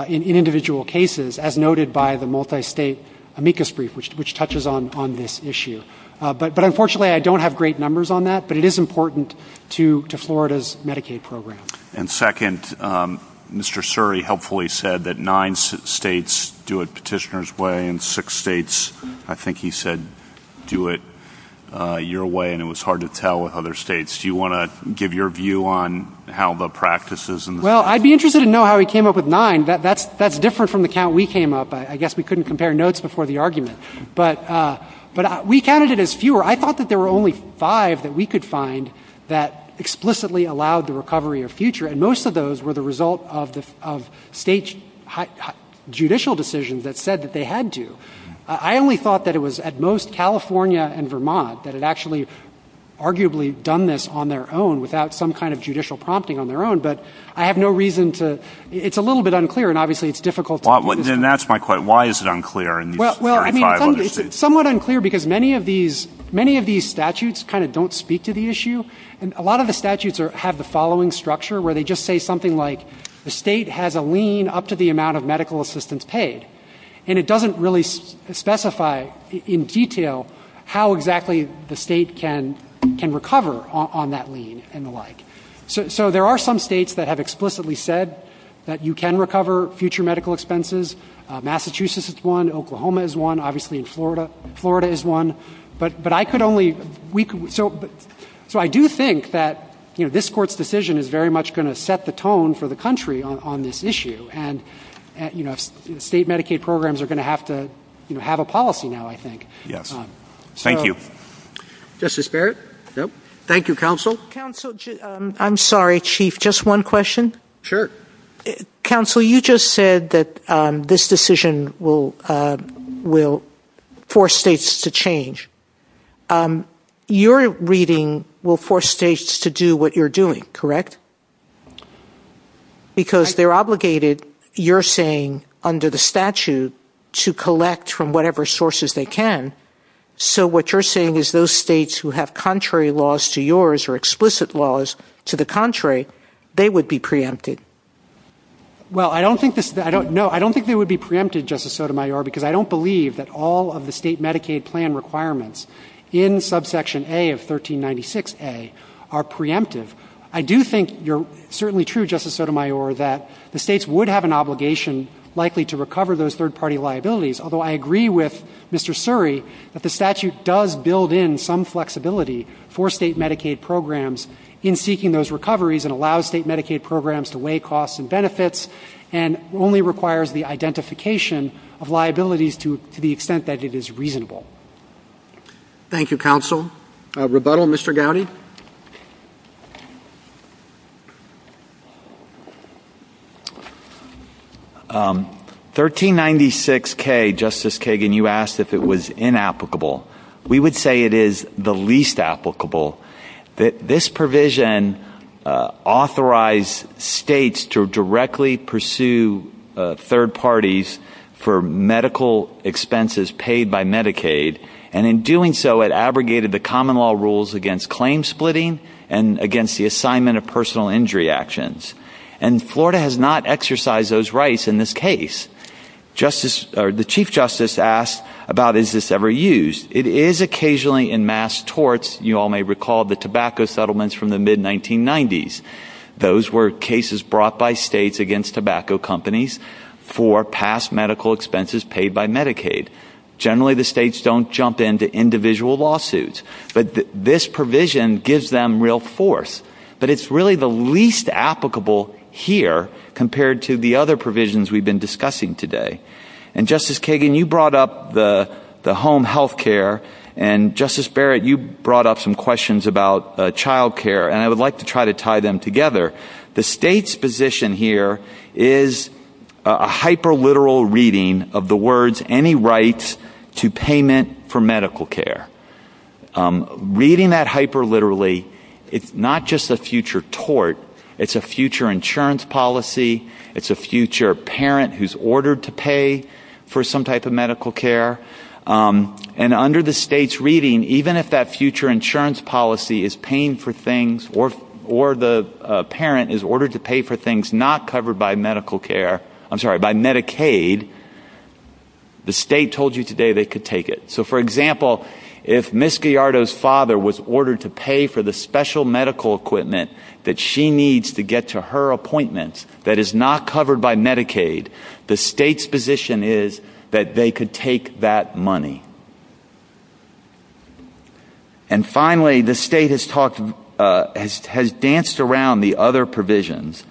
in individual cases, as noted by the multi-state amicus brief, which touches on this issue. But unfortunately, I don't have great numbers on that, but it is important to Florida's Medicaid program. And second, Mr. Suri helpfully said that nine states do it petitioner's way and six states, I think he said, do it your way, and it was hard to tell with other states. Do you want to give your view on how the practice is? Well, I'd be interested to know how he came up with nine. That's different from the count we came up. I guess we couldn't compare notes before the argument. But we counted it as fewer. I thought that there were only five that we could find that explicitly allowed the recovery of future, and most of those were the result of state judicial decisions that said that they had to. I only thought that it was at most California and Vermont that had actually arguably done this on their own without some kind of judicial prompting on their own, but I have no reason to ‑‑ it's a little bit unclear, and obviously it's difficult to ‑‑ And that's my question. Why is it unclear in these five other states? Well, I mean, it's somewhat unclear because many of these statutes kind of don't speak to the issue, and a lot of the statutes have the following structure where they just say something like, the state has a lien up to the amount of medical assistance paid, and it doesn't really specify in detail how exactly the state can recover on that lien and the like. So there are some states that have explicitly said that you can recover future medical expenses. Massachusetts is one. Oklahoma is one. Obviously in Florida, Florida is one. But I could only ‑‑ so I do think that, you know, this court's decision is very much going to set the tone for the country on this issue, and, you know, state Medicaid programs are going to have to, you know, have a policy now, I think. Yes. Thank you. Justice Barrett? Yep. Thank you, counsel. Counsel, I'm sorry, Chief, just one question. Sure. Counsel, you just said that this decision will force states to change. Your reading will force states to do what you're doing, correct? Because they're obligated, you're saying, under the statute to collect from whatever sources they can. So what you're saying is those states who have contrary laws to yours or explicit laws to the contrary, they would be preempted. Well, I don't think this ‑‑ no, I don't think they would be preempted, Justice Sotomayor, because I don't believe that all of the state Medicaid plan requirements in subsection A of 1396A are preemptive. I do think you're certainly true, Justice Sotomayor, that the states would have an obligation likely to recover those third-party liabilities, although I agree with Mr. Suri that the statute does build in some flexibility for state Medicaid programs in seeking those recoveries and allows state Medicaid programs to weigh costs and benefits and only requires the identification of liabilities to the extent that it is reasonable. Thank you, counsel. Rebuttal, Mr. Gowdy? 1396K, Justice Kagan, you asked if it was inapplicable. We would say it is the least applicable. This provision authorized states to directly pursue third parties for medical expenses paid by Medicaid, and in doing so, it abrogated the common law rules against claim splitting and against the assignment of personal injury actions. And Florida has not exercised those rights in this case. The Chief Justice asked about is this ever used. It is occasionally in mass torts. You all may recall the tobacco settlements from the mid‑1990s. Those were cases brought by states against tobacco companies for past medical expenses paid by Medicaid. Generally, the states don't jump into individual lawsuits. But this provision gives them real force. But it's really the least applicable here compared to the other provisions we've been discussing today. And, Justice Kagan, you brought up the home health care, and, Justice Barrett, you brought up some questions about child care, and I would like to try to tie them together. The state's position here is a hyperliteral reading of the words, any rights to payment for medical care. Reading that hyperliterally, it's not just a future tort. It's a future insurance policy. It's a future parent who's ordered to pay for some type of medical care. And under the state's reading, even if that future insurance policy is paying for things or the parent is ordered to pay for things not covered by Medicaid, the state told you today they could take it. So, for example, if Ms. Gallardo's father was ordered to pay for the special medical equipment that she needs to get to her appointment that is not covered by Medicaid, the state's position is that they could take that money. And, finally, the state has danced around the other provisions,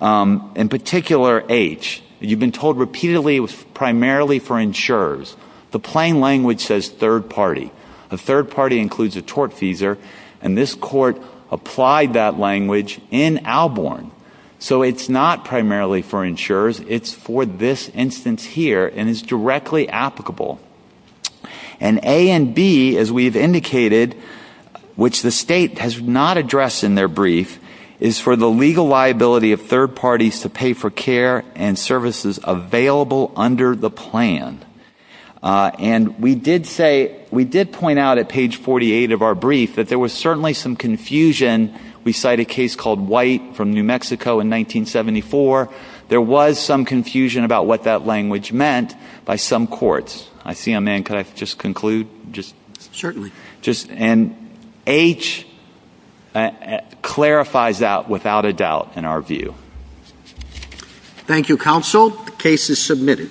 in particular, H. You've been told repeatedly it was primarily for insurers. The plain language says third party. The third party includes a tort feeser, and this court applied that language in Alborn. So it's not primarily for insurers. It's for this instance here, and it's directly applicable. And A and B, as we've indicated, which the state has not addressed in their brief, is for the legal liability of third parties to pay for care and services available under the plan. And we did point out at page 48 of our brief that there was certainly some confusion. We cite a case called White from New Mexico in 1974. There was some confusion about what that language meant by some courts. I see a man. Could I just conclude? Certainly. And H clarifies that without a doubt in our view. Thank you, counsel. The case is submitted.